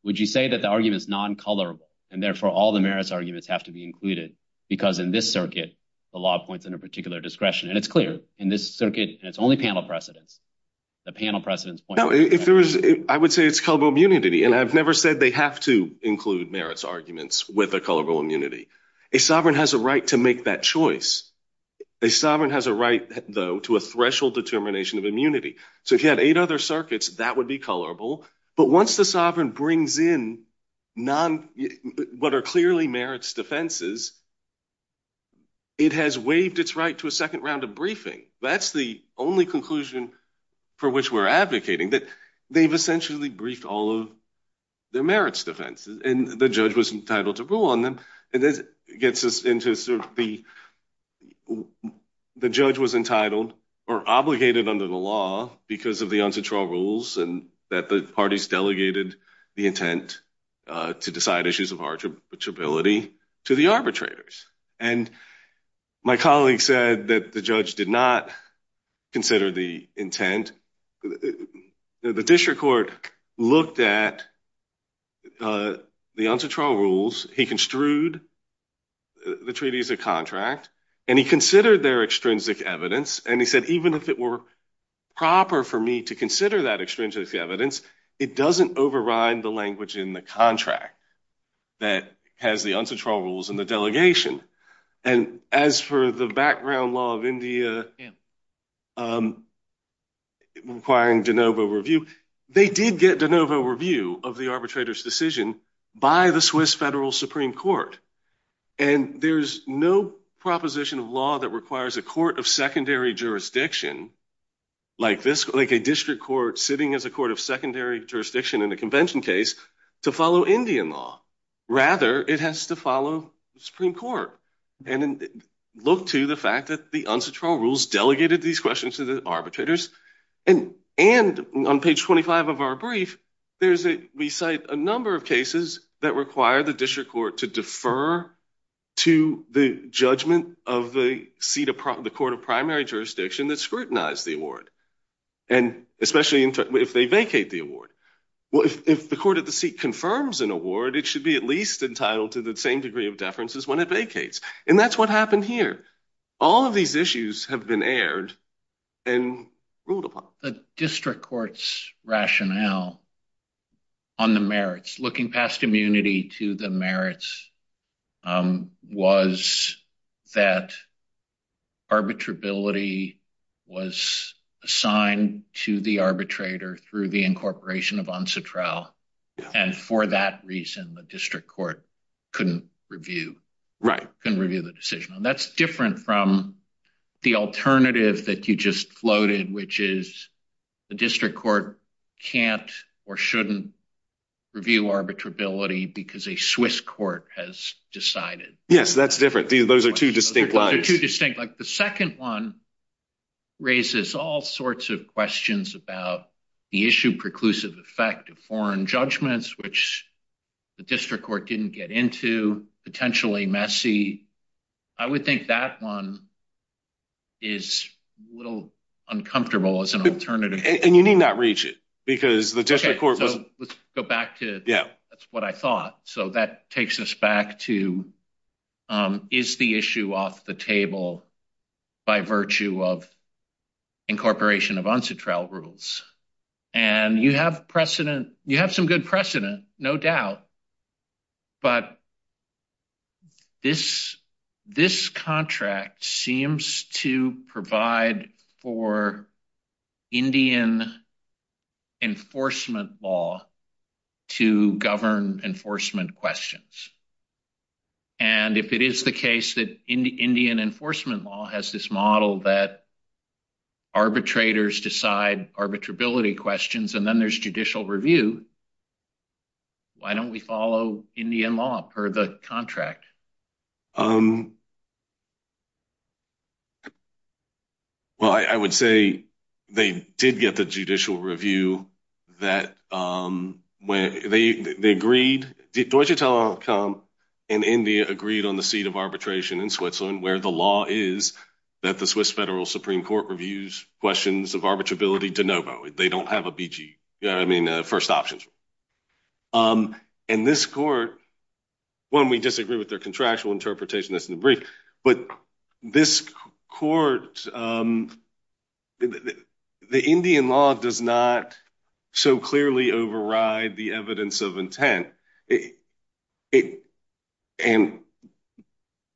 Would you say that the argument is non-colorable and therefore all the merits arguments have to be included because in this circuit, the law points in a particular discretion and it's clear in this circuit, it's only panel precedent. The panel precedents. I would say it's colorable immunity and I've never said they have to include merits arguments with a colorable immunity. A sovereign has a right to make that choice. A sovereign has a right though to a threshold determination of immunity. So if you had eight other circuits, that would be colorable. But once the sovereign brings in non, what are clearly merits defenses, it has waived its right to a second round of briefing. That's the only conclusion for which we're advocating that they've not included merits arguments. And the judge was entitled to rule on them and it gets us into sort of the, the judge was entitled or obligated under the law because of the uncontrolled rules and that the parties delegated the intent to decide issues of arbitrability to the arbitrators. And my colleague said that the judge did not consider the intent. The district court looked at the uncontrolled rules. He construed the treaties of contract and he considered their extrinsic evidence. And he said, even if it were proper for me to consider that extrinsic evidence, it doesn't override the language in the contract that has the uncontrolled rules and the delegation. And as for the background law of India, requiring DeNovo review, they did get DeNovo review of the arbitrator's decision by the Swiss federal Supreme court. And there's no proposition of law that requires a court of secondary jurisdiction like this, like a district court sitting as a court of secondary jurisdiction in a convention case to follow Indian law. Rather it has to follow Supreme court and look to the fact that the uncontrolled rules delegated these questions to the arbitrators. And on page 25 of our brief, we cite a number of cases that require the district court to defer to the judgment of the court of primary jurisdiction that scrutinized the award. And especially if they vacate the award. If the court of the seat confirms an award, it should be at least entitled to the same degree of deferences when it vacates. And that's what happened here. All of these issues have been aired and ruled upon. The district court's rationale on the merits, looking past immunity to the merits, was that arbitrability was assigned to the arbitrator through the incorporation of Ansatral. And for that reason, the district court couldn't review, couldn't review the decision. And that's different from the alternative that you just floated, which is the district court can't or shouldn't review arbitrability because a Swiss court has decided. Yes, that's different. Those are two distinct lines. The second one raises all sorts of questions about the issue preclusive effect of foreign judgments, which the district court didn't get into. And the third one is, is the issue potentially messy? I would think that one is a little uncomfortable as an alternative. And you need not reach it because the district court. Let's go back to that's what I thought. So that takes us back to is the issue off the table by virtue of incorporation of Ansatral rules. And you have precedent, you have some good precedent, no doubt, but this, this contract seems to provide for Indian enforcement law to govern enforcement questions. And if it is the case that Indian enforcement law has this model that arbitrators decide arbitrability questions, and then there's judicial review, why don't we follow Indian law for the contract? Well, I would say they did get the judicial review that when they, they agreed, did Deutsche Telekom and India agreed on the seat of arbitration in Switzerland, where the law is that the Swiss federal Supreme court reviews questions of BG. I mean, first options. And this court, when we disagree with their contractual interpretation, that's in the brief, but this court, the Indian law does not so clearly override the evidence of intent. And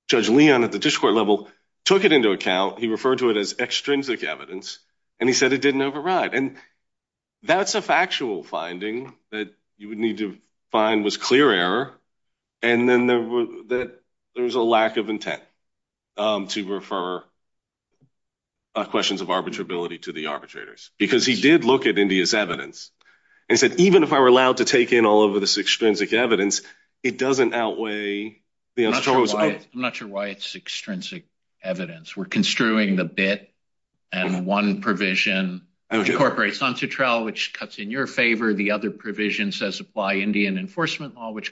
judge Leon at the district court level took it into account. He referred to it as extrinsic evidence and he said it didn't override. And that's a factual finding that you would need to find was clear error. And then there was that there was a lack of intent to refer questions of arbitrability to the arbitrators because he did look at India's evidence and said, even if I were allowed to take in all of this extrinsic evidence, it doesn't outweigh. I'm not sure why it's extrinsic evidence. We're construing the bit and one provision, which incorporates on to trial, which cuts in your favor. The other provision says apply Indian enforcement law, which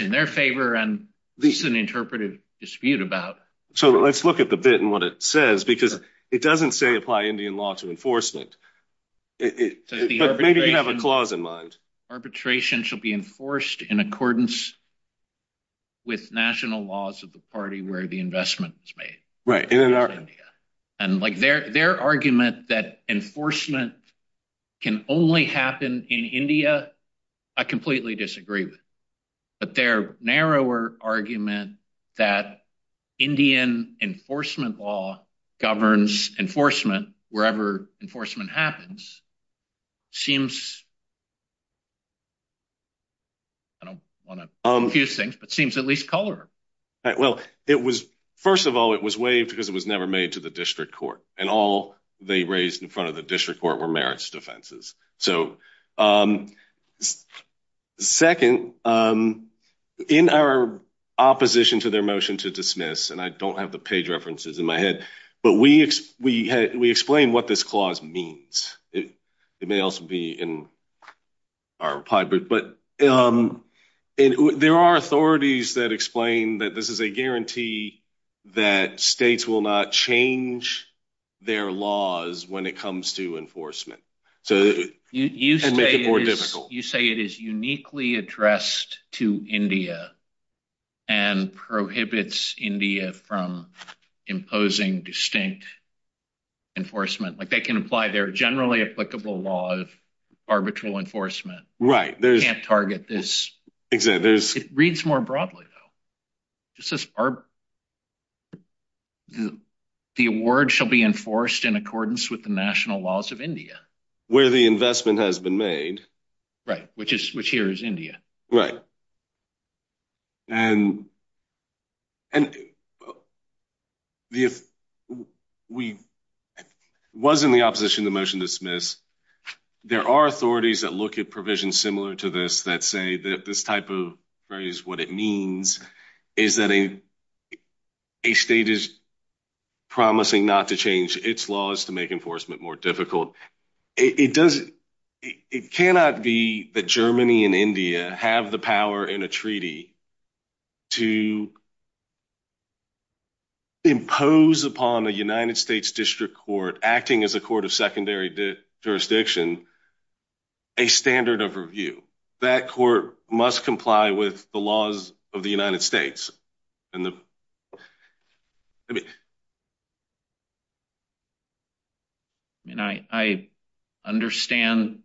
in their favor and least than interpreted dispute about. So let's look at the bit and what it says, because it doesn't say apply Indian law to enforcement. Arbitration should be enforced in accordance with national laws of the party where the investment is made. Right. And like their, their argument that enforcement can only happen in India. I completely disagree with, but their narrower argument that Indian enforcement law governs enforcement wherever enforcement happens seems, I don't want to confuse things, but seems at least color. Well, it was, first of all, it was waived because it was never made to the district court and all they raised in front of the district court were merits defenses. So second in our opposition to their motion to dismiss, and I don't have the page references in my head, but we, we had, we explained what this clause means. It may also be in our pie, but there are authorities that explain that this is a guarantee that states will not change their laws when it comes to enforcement. So you can make it more difficult. You say it is uniquely addressed to India and prohibits India from imposing distinct enforcement. Like they can apply their generally applicable law of arbitral enforcement. Right. There's target. This reads more broadly though. This is our, the award shall be enforced in accordance with the national laws of India where the investment has been made. Right. Which is, which here is India. Right. And, and if we wasn't the opposition to the motion to dismiss, there are authorities that look at provisions similar to this, that say that this type of phrase, what it means is that a state is promising not to change its laws to make enforcement more difficult. It doesn't, it cannot be the Germany and India have the power in a treaty to impose upon a jurisdiction, a standard of review. That court must comply with the laws of the United States. And I, I understand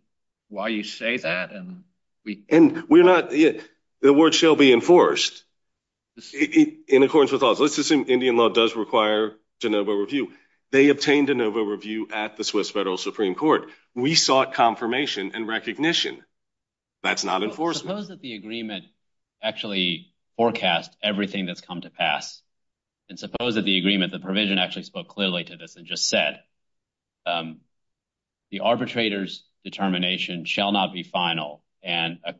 why you say that. And we're not yet, the word shall be enforced in accordance with all, let's assume Indian law does require to know about review. They obtained an overview at the Swiss federal Supreme court. We sought confirmation and recognition. That's not enforced. Suppose that the agreement actually forecast everything that's come to pass. And suppose that the agreement, the provision actually spoke clearly to this and just said, the arbitrators determination shall not be final. And a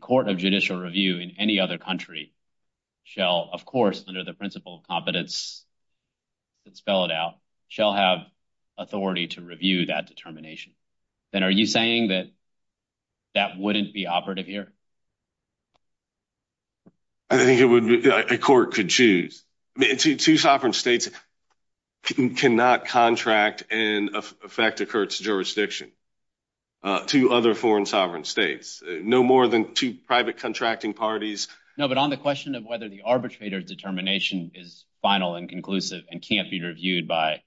court of judicial review in any other country shall, of course, under the principle of competence, let's spell it out shall have authority to review that determination. And are you saying that that wouldn't be operative here? I think it would be a court could choose two sovereign states cannot contract and affect the court's jurisdiction to other foreign sovereign States, no more than two private contracting parties. No, but on the question of whether the arbitrator's determination is final and conclusive and can't be reviewed by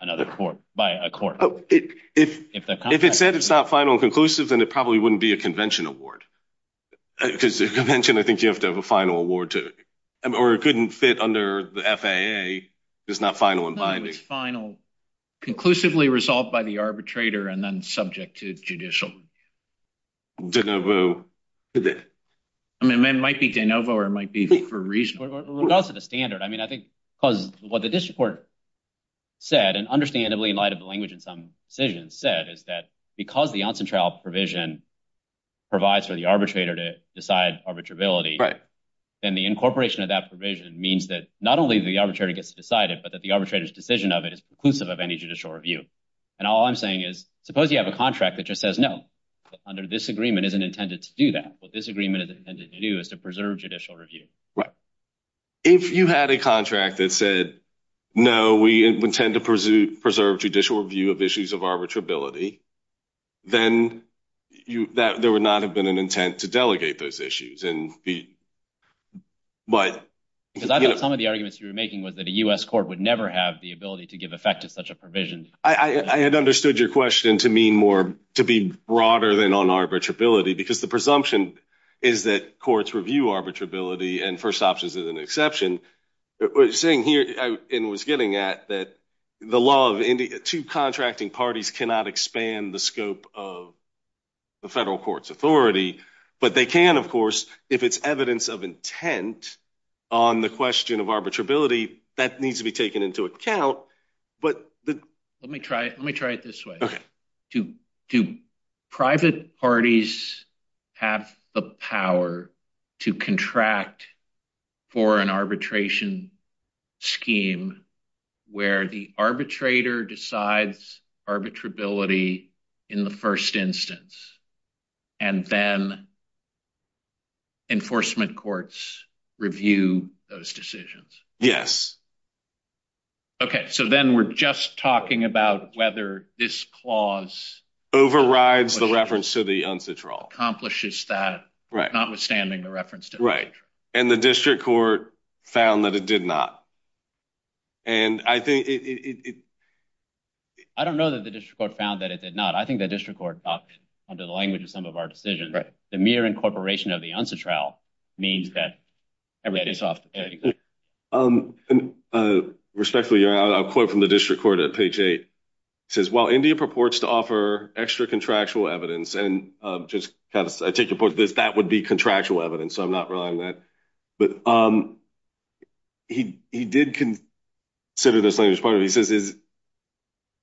another court by a court, if it's not final and conclusive, then it probably wouldn't be a convention award because the convention, I think you have to have a final award to, or it couldn't fit under the FAA. It's not final and binding. Conclusively resolved by the arbitrator and then subject to judicial de novo. I mean, it might be de novo or it might be for a reason. It's also the standard. I mean, I think because what the district court said and understandably light of the language in some decisions said is that because the onsen trial provision provides for the arbitrator to decide arbitrability and the incorporation of that provision means that not only the arbitrary gets decided, but that the arbitrator's decision of it is conclusive of any judicial review. And all I'm saying is, suppose you have a contract that just says no under this agreement isn't intended to do that. What this agreement is intended to do is to preserve judicial review. Right. If you had a contract that said, no, we intend to pursue preserved judicial review of issues of arbitrability, then you, that there would not have been an intent to delegate those issues and be, but because I know some of the arguments you were making was that a U S court would never have the ability to give effect to such a provision. I had understood your question to mean more to be broader than on arbitrability, because the presumption is that courts review arbitrability and first options is an exception. It was saying here in was getting at that the law of two contracting parties cannot expand the scope of the federal court's authority, but they can of course, if it's evidence of intent on the question of arbitrability that needs to be let me try it. Let me try it this way. Okay. To do private parties have the power to contract for an arbitration scheme where the arbitrator decides arbitrability in the first instance and then enforcement courts review those decisions. Yes. Okay. So then we're just talking about whether this clause overrides the reference to the, accomplishes that not withstanding the reference to the district court found that it did not. And I think it, I don't know that the district court found that it did not. I think the district court talked under the language of some of our decisions, the mere incorporation of the answer trial means that everybody's off. Okay. Respectfully, you're out of court from the district court at page eight says, while India purports to offer extra contractual evidence, and just have a ticket for this, that would be contractual evidence. So I'm not relying on that, but he, he did consider this thing as part of, he says,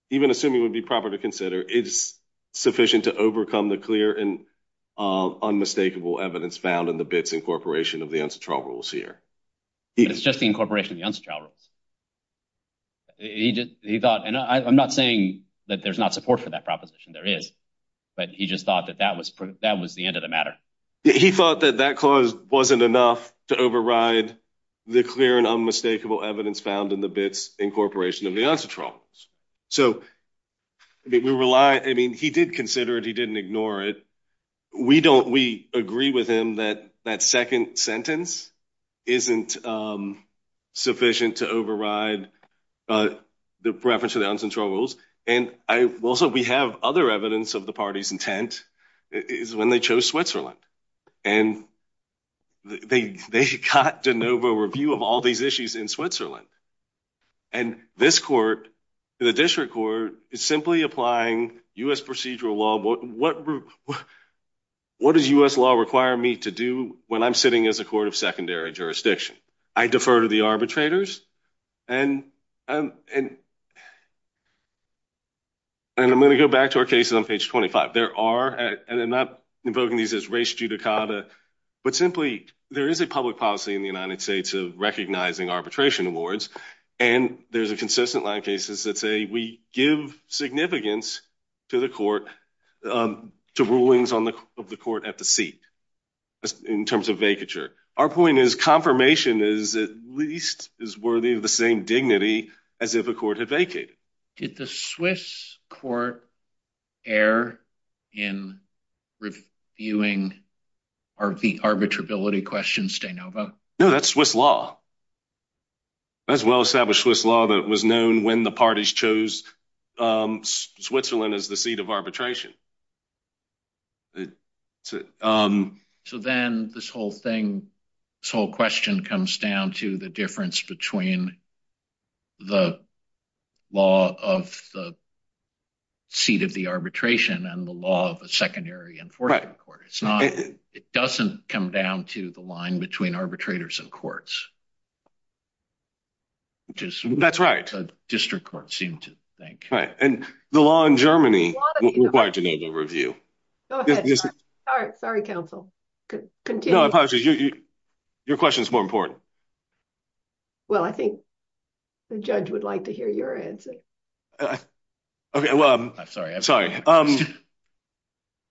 even assuming it would be proper to consider it's sufficient to overcome the clear and unmistakable evidence found in the bits incorporation of the answer trial rules here. It's just the incorporation of the answer trial rules. He did. He thought, and I'm not saying that there's not support for that proposition there is, but he just thought that that was, that was the end of the matter. He thought that that cause wasn't enough to override the clear and unmistakable evidence found in the bits incorporation of the answer trial. So we rely. I mean, he did consider it. He didn't ignore it. We don't, we agree with him that that second sentence isn't sufficient to override the preference of the answer trial rules. And I will also, we have other evidence of the party's intent is when they chose Switzerland and they, they got de novo review of all these issues in Switzerland. And this court, the district court is simply applying us procedural law. What, what, what, what does us law require me to do when I'm sitting as a court of secondary jurisdiction? I defer to the arbitrators and, um, and, and I'm going to go back to our cases on page 25. There are, and I'm not invoking these as race judicata, but simply there is a public policy in the United States of recognizing arbitration awards. And there's a consistent line of cases that say we give significance to the court, um, to rulings on the, of the court at the seat, in terms of vacature. Our point is confirmation is at least is worthy of the same dignity as if a court had vacated. Did the Swiss court air in reviewing or the arbitrability questions de novo? No, that's Swiss law. That's well established Swiss law. That was known when the parties chose, um, Switzerland as the seat of arbitration. Um, so then this whole thing, this whole question comes down to the difference between the law of the seat of the arbitration and the law of a secondary enforcement court. It's not, it doesn't come down to the line between arbitrators and courts, which is that's right. District court seemed to think right. And the law in Germany required to go to review. Sorry, counsel. Your question is more important. Well, I think the judge would like to hear your answer. Okay. Well, I'm sorry. I'm sorry. Um,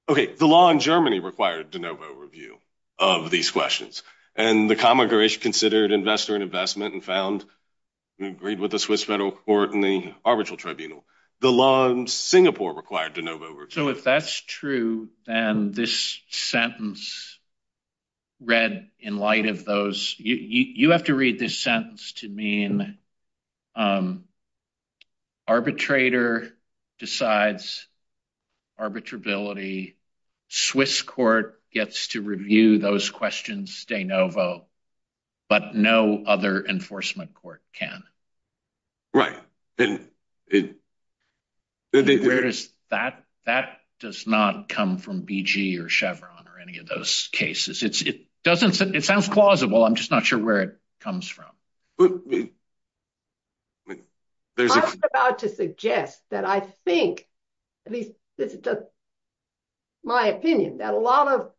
okay. The law in Germany required de novo review of these questions and the common Irish considered investor and investment and found agreed with the Swiss federal court and the arbitral tribunal. The law in Singapore required to know. So if that's true, and this sentence read in light of those, you have to read this sentence to mean, um, arbitrator decides arbitrability. Swiss court gets to review those questions. De novo, but no other enforcement court can. There's that, that does not come from BG or Chevron or any of those cases. It's, it doesn't, it sounds plausible. I'm just not sure where it comes from. I was about to suggest that I think at least this is just my opinion that a lot of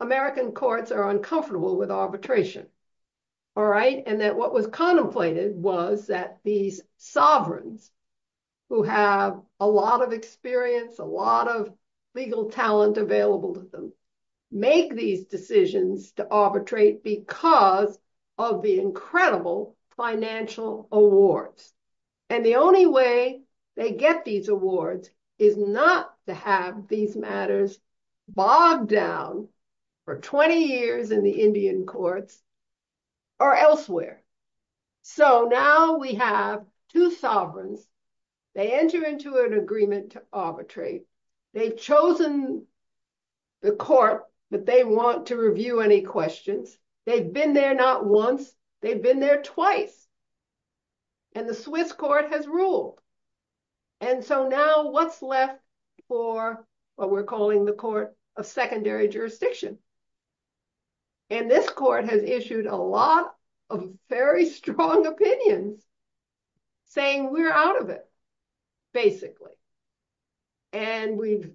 people are uncomfortable with arbitration. All right. And that what was contemplated was that these sovereigns who have a lot of experience, a lot of legal talent available to them make these decisions to arbitrate because of the incredible financial awards. And the only way they get these awards is not to have these matters bogged down for 20 years in the Indian courts or elsewhere. So now we have two sovereigns. They enter into an agreement to arbitrate. They've chosen the court that they want to review any questions. They've been there not once, they've been there twice. And the Swiss court has ruled. And so now what's left for what we're calling the court, a secondary jurisdiction. And this court has issued a lot of very strong opinions saying we're out of it basically. And we've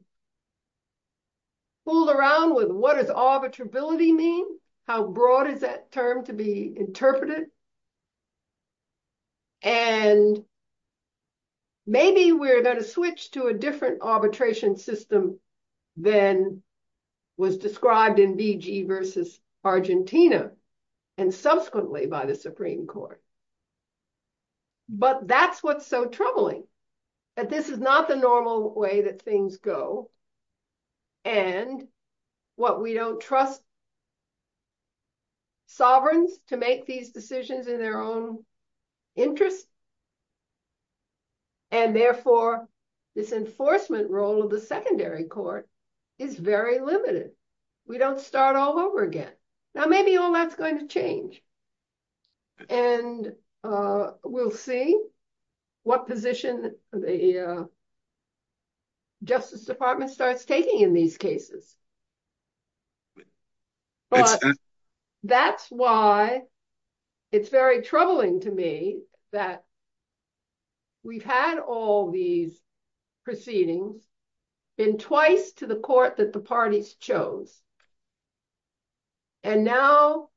fooled around with what does arbitrability mean? How broad is that term to be interpreted? And maybe we're going to switch to a different arbitration system than was described in BG versus Argentina and subsequently by the Supreme Court. But that's what's so troubling that this is not the normal way that things go and what we don't trust sovereigns to make these decisions in their own interest. And therefore this enforcement role of the secondary court is very limited. We don't start all over again. Now maybe all that's going to change and we'll see what position the Justice Department starts taking in these cases. But that's why it's very troubling to me that we've had all these proceedings been twice to the court that the parties chose. And now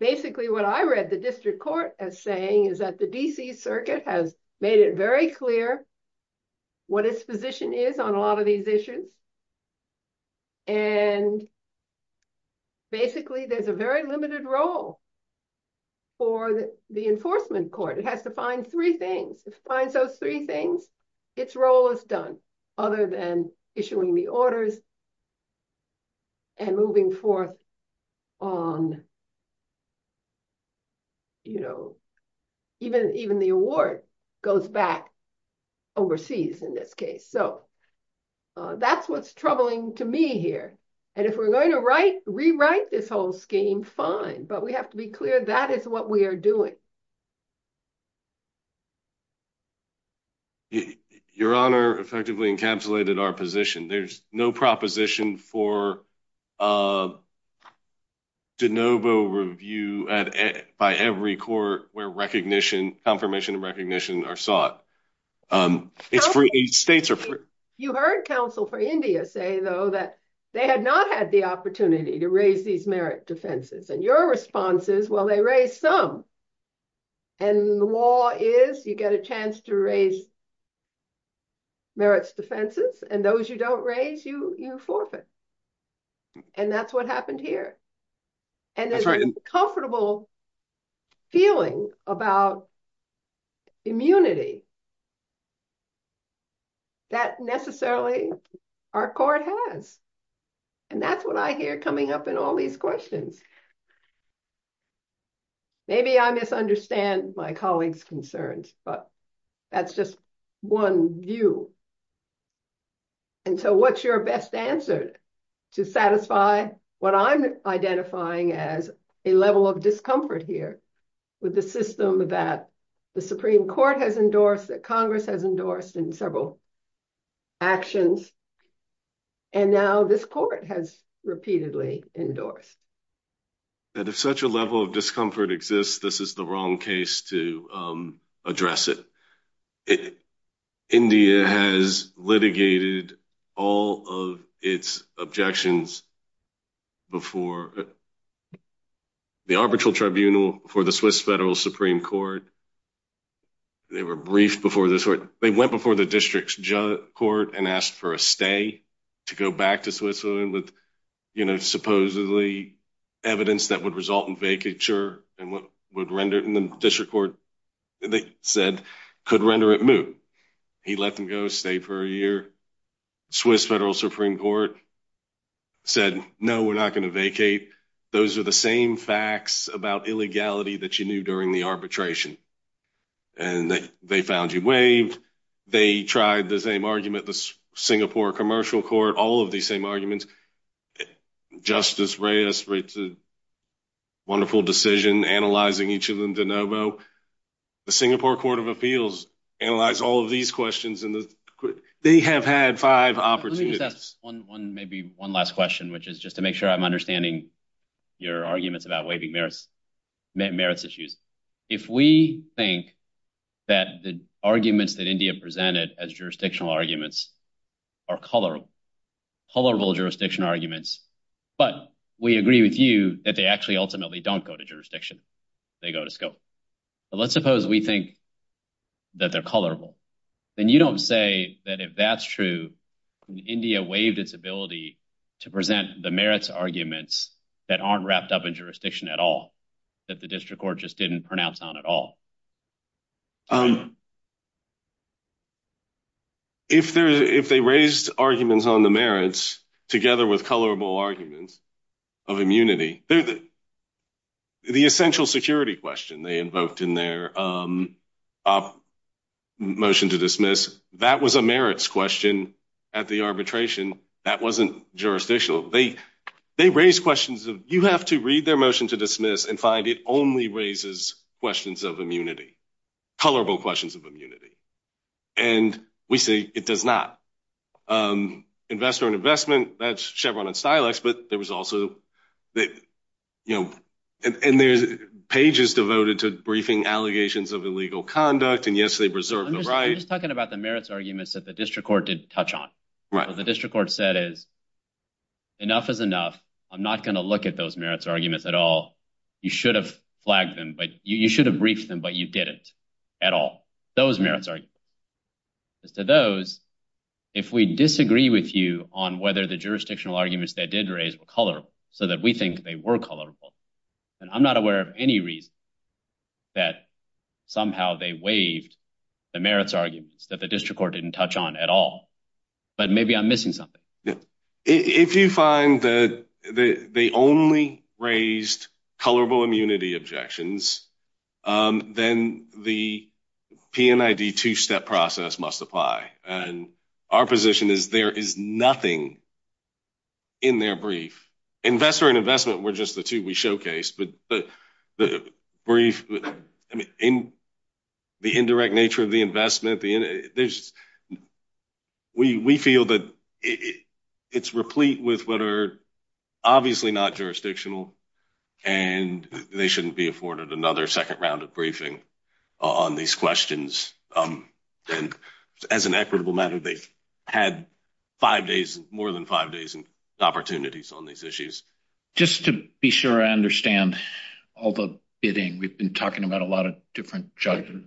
basically what I read the district court as saying is that the DC circuit has made it very clear what its position is on a lot of these issues. And basically there's a very limited role for the enforcement court. It has to find three things. It finds those three things. And its role is done other than issuing the orders and moving forth on, you know, even the award goes back overseas in this case. So that's what's troubling to me here. And if we're going to rewrite this whole scheme, fine. But we have to be clear that is what we are doing. Your Honor effectively encapsulated our position. There's no proposition for a de novo review by every court where recognition, confirmation and recognition are sought. You heard counsel for India say though that they had not had the opportunity to raise these merit defenses and your response is, well, they raised some. And the law is you get a chance to raise merits defenses and those you don't raise you forfeit. And that's what happened here. And there's a comfortable feeling about immunity that necessarily our court has. And that's what I hear coming up in all these questions. Maybe I misunderstand my colleagues concerns, but that's just one view. And so what's your best answer to satisfy what I'm identifying as a level of discomfort here with the system that the Supreme Court has endorsed, that Congress has endorsed in several actions. And now this court has repeatedly endorsed. And if such a level of discomfort exists, this is the wrong case to address it. India has litigated all of its objections before the arbitral tribunal for the Swiss Federal Supreme Court. They were briefed before the court. They went before the district court and asked for a stay to go back to the evidence that would result in vacature. And what would render it in the district court, they said, could render it moot. He let them go stay for a year. Swiss Federal Supreme Court said, no, we're not going to vacate. Those are the same facts about illegality that you knew during the arbitration and that they found you waived. They tried the same argument, the Singapore Commercial Court, all of the same arguments. Justice Reyes writes a wonderful decision analyzing each of them de novo. The Singapore Court of Appeals analyzes all of these questions. They have had five opportunities. One last question, which is just to make sure I'm understanding your arguments about waiving merits issues. If we think that the arguments that India presented as jurisdictional arguments are colorful, colorful jurisdiction arguments, but we agree with you that they actually ultimately don't go to jurisdiction, they go to scope. But let's suppose we think that they're colorful. Then you don't say that if that's true, India waived its ability to present the merits arguments that aren't wrapped up in jurisdiction at all, that the district court just didn't pronounce on at all. If they raised arguments on the merits together with colorful arguments of immunity, the essential security question they invoked in their motion to dismiss, that was a merits question at the arbitration. That wasn't jurisdictional. They raised questions of you have to read their motion to dismiss and find it only raises questions of immunity. Colorful questions of immunity. And we say it does not. Investor and investment, that's Chevron and Silex, but there was also that, you know, and there's pages devoted to briefing allegations of illegal conduct. And yes, they preserve the right. I'm just talking about the merits arguments that the district court didn't touch on. The district court said is enough is enough. I'm not going to look at those merits arguments at all. You should have flagged them, but you should have briefed them, but you didn't at all. Those merits are to those. If we disagree with you on whether the jurisdictional arguments they did raise color so that we think they were colorful. And I'm not aware of any reason that somehow they waived the merits arguments that the district court didn't touch on at all. But maybe I'm missing something. If you find the, the, the only raised colorable immunity objections, then the PNID two-step process must apply. And our position is there is nothing in their brief. Investor and investment were just the two we showcased, but the brief, I mean, in the indirect nature of the investment, the, there's, we feel that it's replete with what are obviously not jurisdictional and they shouldn't be afforded another second round of briefing on these questions. And as an equitable matter, they had five days, more than five days and opportunities on these issues. Just to be sure. I understand all the bidding. We've been talking about a lot of different judgment,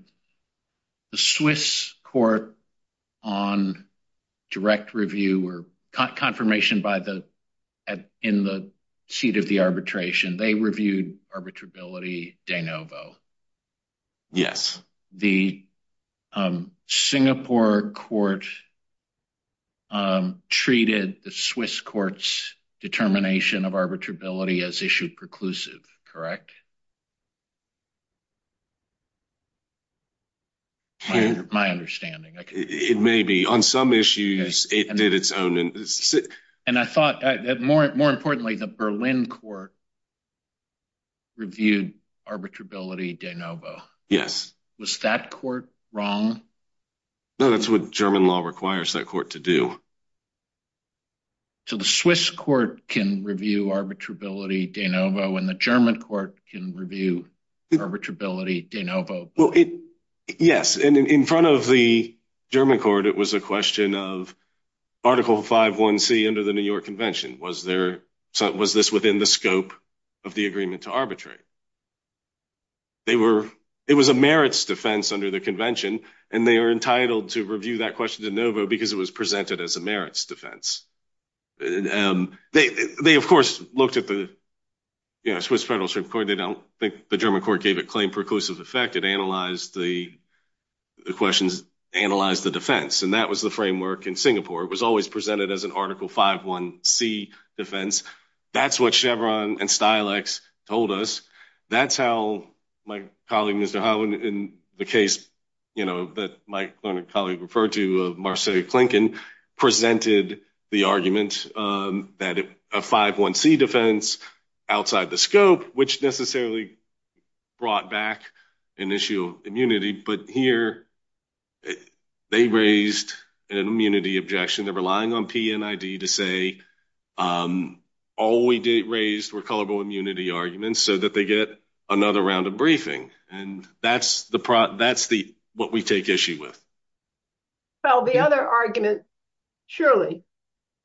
the Swiss court on direct review or confirmation by the, at, in the seat of the arbitration, they reviewed arbitrability de novo. Yes. The Singapore court treated the Swiss courts determination of arbitrability as issued preclusive. Correct. My understanding. It may be on some issues it did its own. And I thought that more, more importantly, the Berlin court reviewed arbitrability de novo. Yes. Was that court wrong? No, that's what German law requires that court to do. So the Swiss court can review arbitrability de novo and the German court can review arbitrability de novo. Yes. And in front of the German court, it was a question of article five one C under the New York convention. Was there, was this within the scope of the agreement to arbitrate? They were, it was a merits defense under the convention. And they are entitled to review that question de novo because it was presented as a merits defense. They, they of course looked at the, yeah, Swiss federal court. They don't think the German court gave it claim perclusive effect. It analyzed the questions, analyzed the defense. And that was the framework in Singapore. It was always presented as an article five one C defense. That's what Chevron and Stilex told us. That's how my colleague, Mr. Holland in the case, you know, that my colleague referred to Marseille, Clinton presented the argument that a five one C defense outside the scope, which necessarily brought back an issue of immunity. But here they raised an immunity objection. They're relying on PNID to say, all we did raise were colorable immunity arguments so that they get another round of briefing. And that's the, that's the, what we take issue with. So the other argument, surely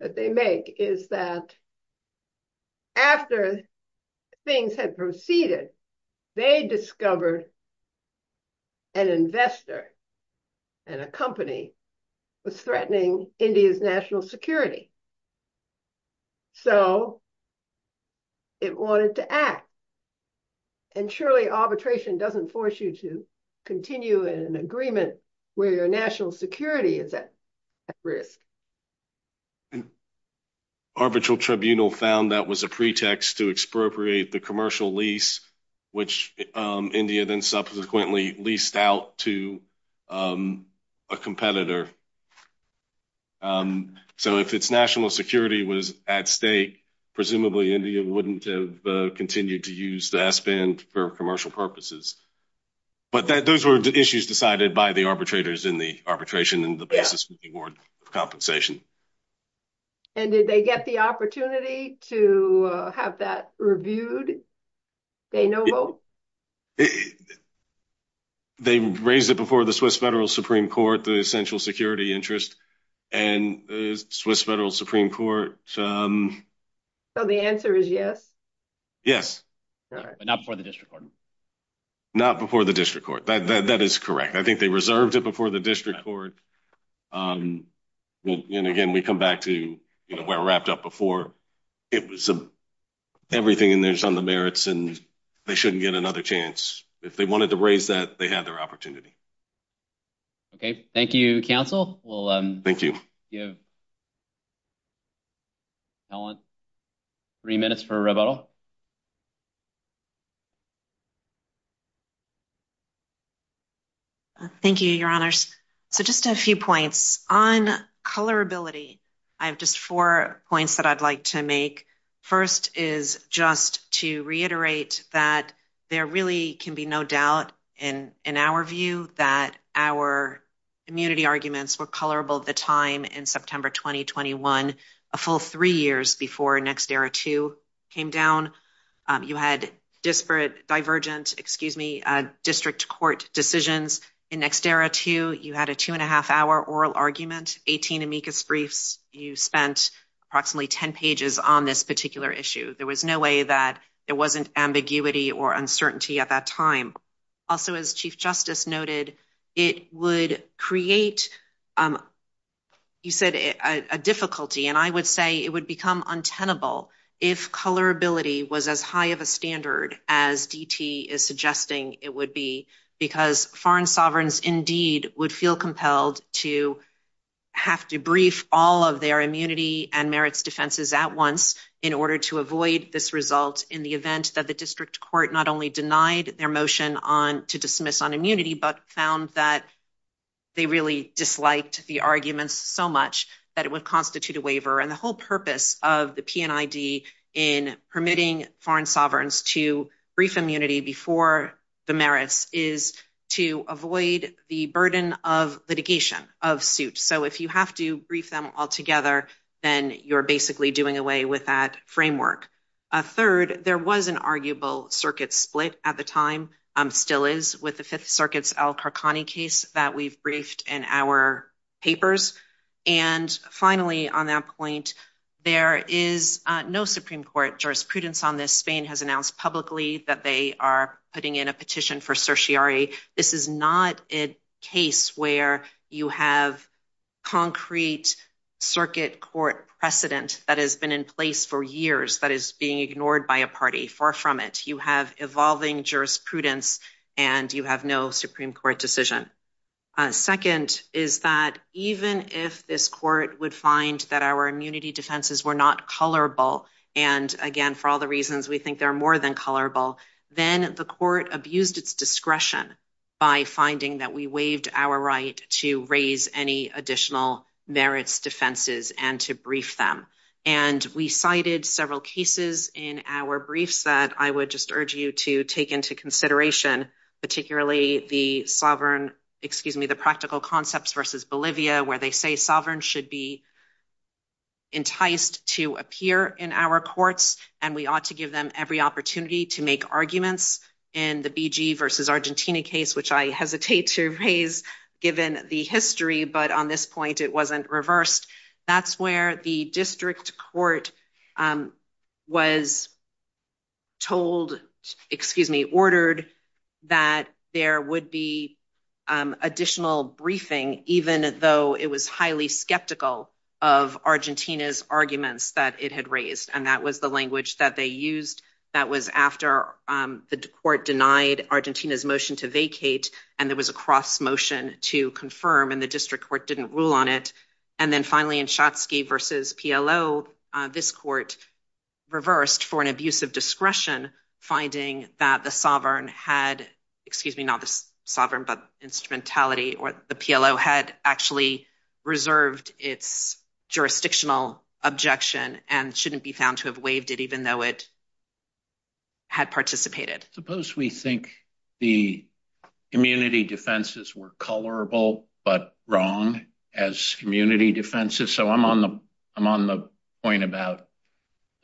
that they make is that after things had proceeded, they discovered an investor and a company was threatening India's national security. So it wanted to act and surely arbitration doesn't force you to continue in an agreement where your national security is at risk. And arbitral tribunal found that was a pretext to expropriate the commercial lease, which India then subsequently leased out to a competitor. So if it's national security was at stake, presumably India wouldn't have continued to use the S band for commercial purposes. But that, those were the issues decided by the arbitrators in the arbitration and the compensation. And did they get the opportunity to have that reviewed? They know. They raised it before the Swiss federal Supreme court, the central security interest and the Swiss federal Supreme court. So the answer is yes. Yes. Not before the district court. Not before the district court. That, that, that is correct. I think they reserved it before the district court. And again, we come back to, you know, we're wrapped up before it was everything in there on the merits and they shouldn't get another chance. If they wanted to raise that, they had their opportunity. Okay. Thank you. Counsel. Well, thank you. Yeah. Three minutes for rebuttal. Thank you, your honors. So just a few points on colorability. I have just four points that I'd like to make. First is just to reiterate that there really can be no doubt in, in our view that our immunity arguments were colorable at the time in September, 2021, a full three years before next era, two came down. You had disparate divergent, excuse me, district court decisions in next era too. You had a two and a half hour oral argument, 18 amicus briefs. You spent approximately 10 pages on this particular issue. There was no way that it wasn't ambiguity or uncertainty at that time. Also as chief justice noted, it would create, you said a difficulty. And I would say it would become untenable. If colorability was as high of a standard as DT is suggesting it would be because foreign sovereigns indeed would feel compelled to have to brief all of their immunity and merits defenses at once in order to avoid this result in the event that the district court not only denied their motion on to dismiss on immunity, but found that they really disliked the arguments so much that it would create a difficulty for DT and ID in permitting foreign sovereigns to brief immunity before the merits is to avoid the burden of litigation of suits. So if you have to brief them altogether, then you're basically doing away with that framework. A third, there was an arguable circuit split at the time. I'm still is with the fifth circuits, Al Qarqani case that we've briefed in our papers. And finally on that point, there is no Supreme court jurisprudence on this. Spain has announced publicly that they are putting in a petition for certiorari. This is not a case where you have concrete circuit court precedent that has been in place for years that is being ignored by a party far from it. You have evolving jurisprudence and you have no Supreme court decision. Second is that even if this court would find that our immunity defenses were not color ball. And again, for all the reasons, we think there are more than color ball. Then the court abused its discretion by finding that we waived our right to raise any additional merits defenses and to brief them. And we cited several cases in our briefs that I would just urge you to take into consideration, particularly the sovereign, excuse me, the practical concepts versus Bolivia, where they say sovereign should be enticed to appear in our courts and we ought to give them every opportunity to make arguments in the BG versus Argentina case, which I hesitate to raise given the history. But on this point it wasn't reversed. That's where the district court was told, excuse me, ordered that there would be additional briefing, even though it was highly skeptical of Argentina's arguments that it had raised. And that was the language that they used. That was after the court denied Argentina's motion to vacate and there was a cross motion to confirm and the district court didn't rule on it. And then finally in Shotsky versus PLO, this court reversed for an abuse of discretion, finding that the sovereign had, excuse me, not the sovereign, but instrumentality or the PLO had actually reserved its jurisdictional objection and shouldn't be found to have waived it even though it had participated. Suppose we think the immunity defenses were colorable, but wrong as community defenses. So I'm on the, the point about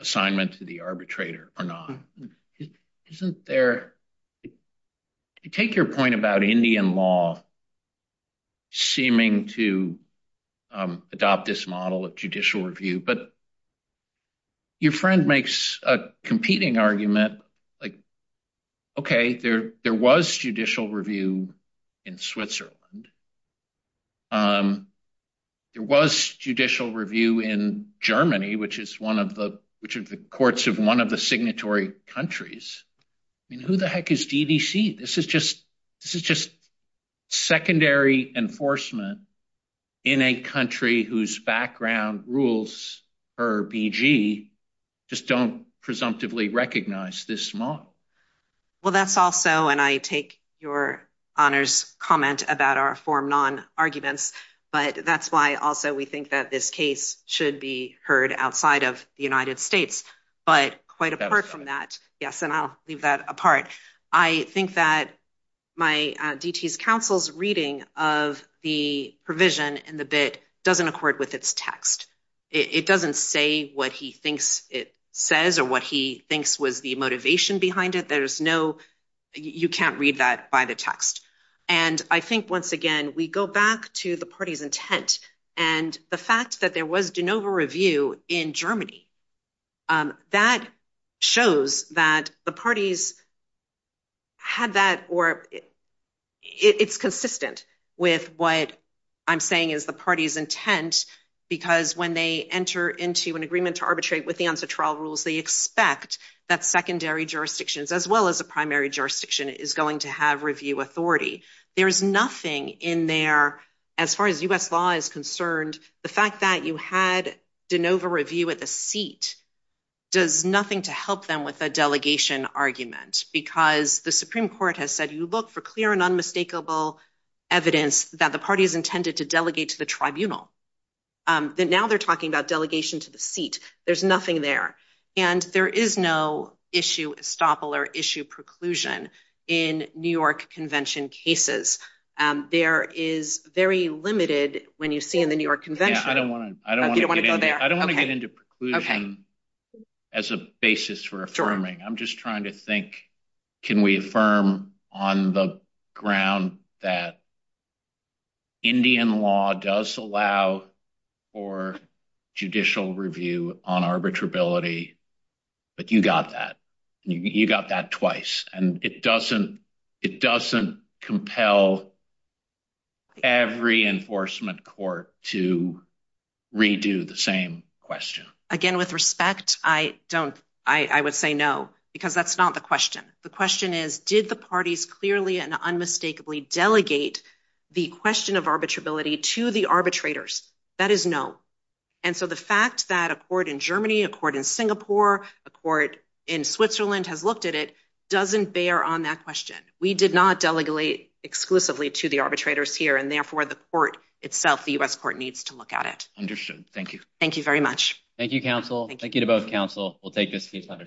assignment to the arbitrator or not. Isn't there, you take your point about Indian law seeming to, um, adopt this model of judicial review, but your friend makes a competing argument like, okay, there, there was judicial review in Switzerland. Um, there was judicial review in Germany, which is one of the courts of one of the signatory countries. I mean, who the heck is DDC? This is just, this is just secondary enforcement in a country whose background rules her BG just don't presumptively recognize this model. Well, that's also, and I take your honors comment about our form non arguments, but that's why also we think that this case should be heard outside of the United States, but quite apart from that. Yes. And I'll leave that apart. I think that my DTS counsel's reading of the provision and the bit doesn't accord with its text. It doesn't say what he thinks it says or what he thinks was the motivation behind it. There's no, you can't read that by the text and I think once again, we go back to the party's intent and the fact that there was DeNova review in Germany, um, that shows that the parties had that or it's consistent with what I'm saying is the party's intent because when they enter into an agreement to arbitrate with the onset trial rules, they expect that secondary jurisdictions as well as the primary jurisdiction is going to have review authority. There is nothing in there. As far as us law is concerned, the fact that you had DeNova review at the seat does nothing to help them with a delegation argument because the Supreme court has said, you look for clear and unmistakable evidence that the party has intended to delegate to the tribunal. Um, that now they're talking about delegation to the seat. There's nothing there and there is no issue, estoppel or issue preclusion in New York convention cases. Um, there is very limited when you see in the New York convention. I don't want to get into preclusion as a basis for affirming. I'm just trying to think, can we affirm on the ground that Indian law does allow for judicial review of on arbitrability? But you got that, you got that twice and it doesn't, it doesn't compel every enforcement court to redo the same question. Again, with respect, I don't, I would say no, because that's not the question. The question is did the parties clearly and unmistakably delegate the question of arbitrability to the arbitrators? That is no. And so the fact that a court in Germany, a court in Singapore, a court in Switzerland has looked at it, doesn't bear on that question. We did not delegate exclusively to the arbitrators here. And therefore the court itself, the U S court needs to look at it. Understood. Thank you. Thank you very much. Thank you counsel. Thank you to both counsel. We'll take this piece on our solution.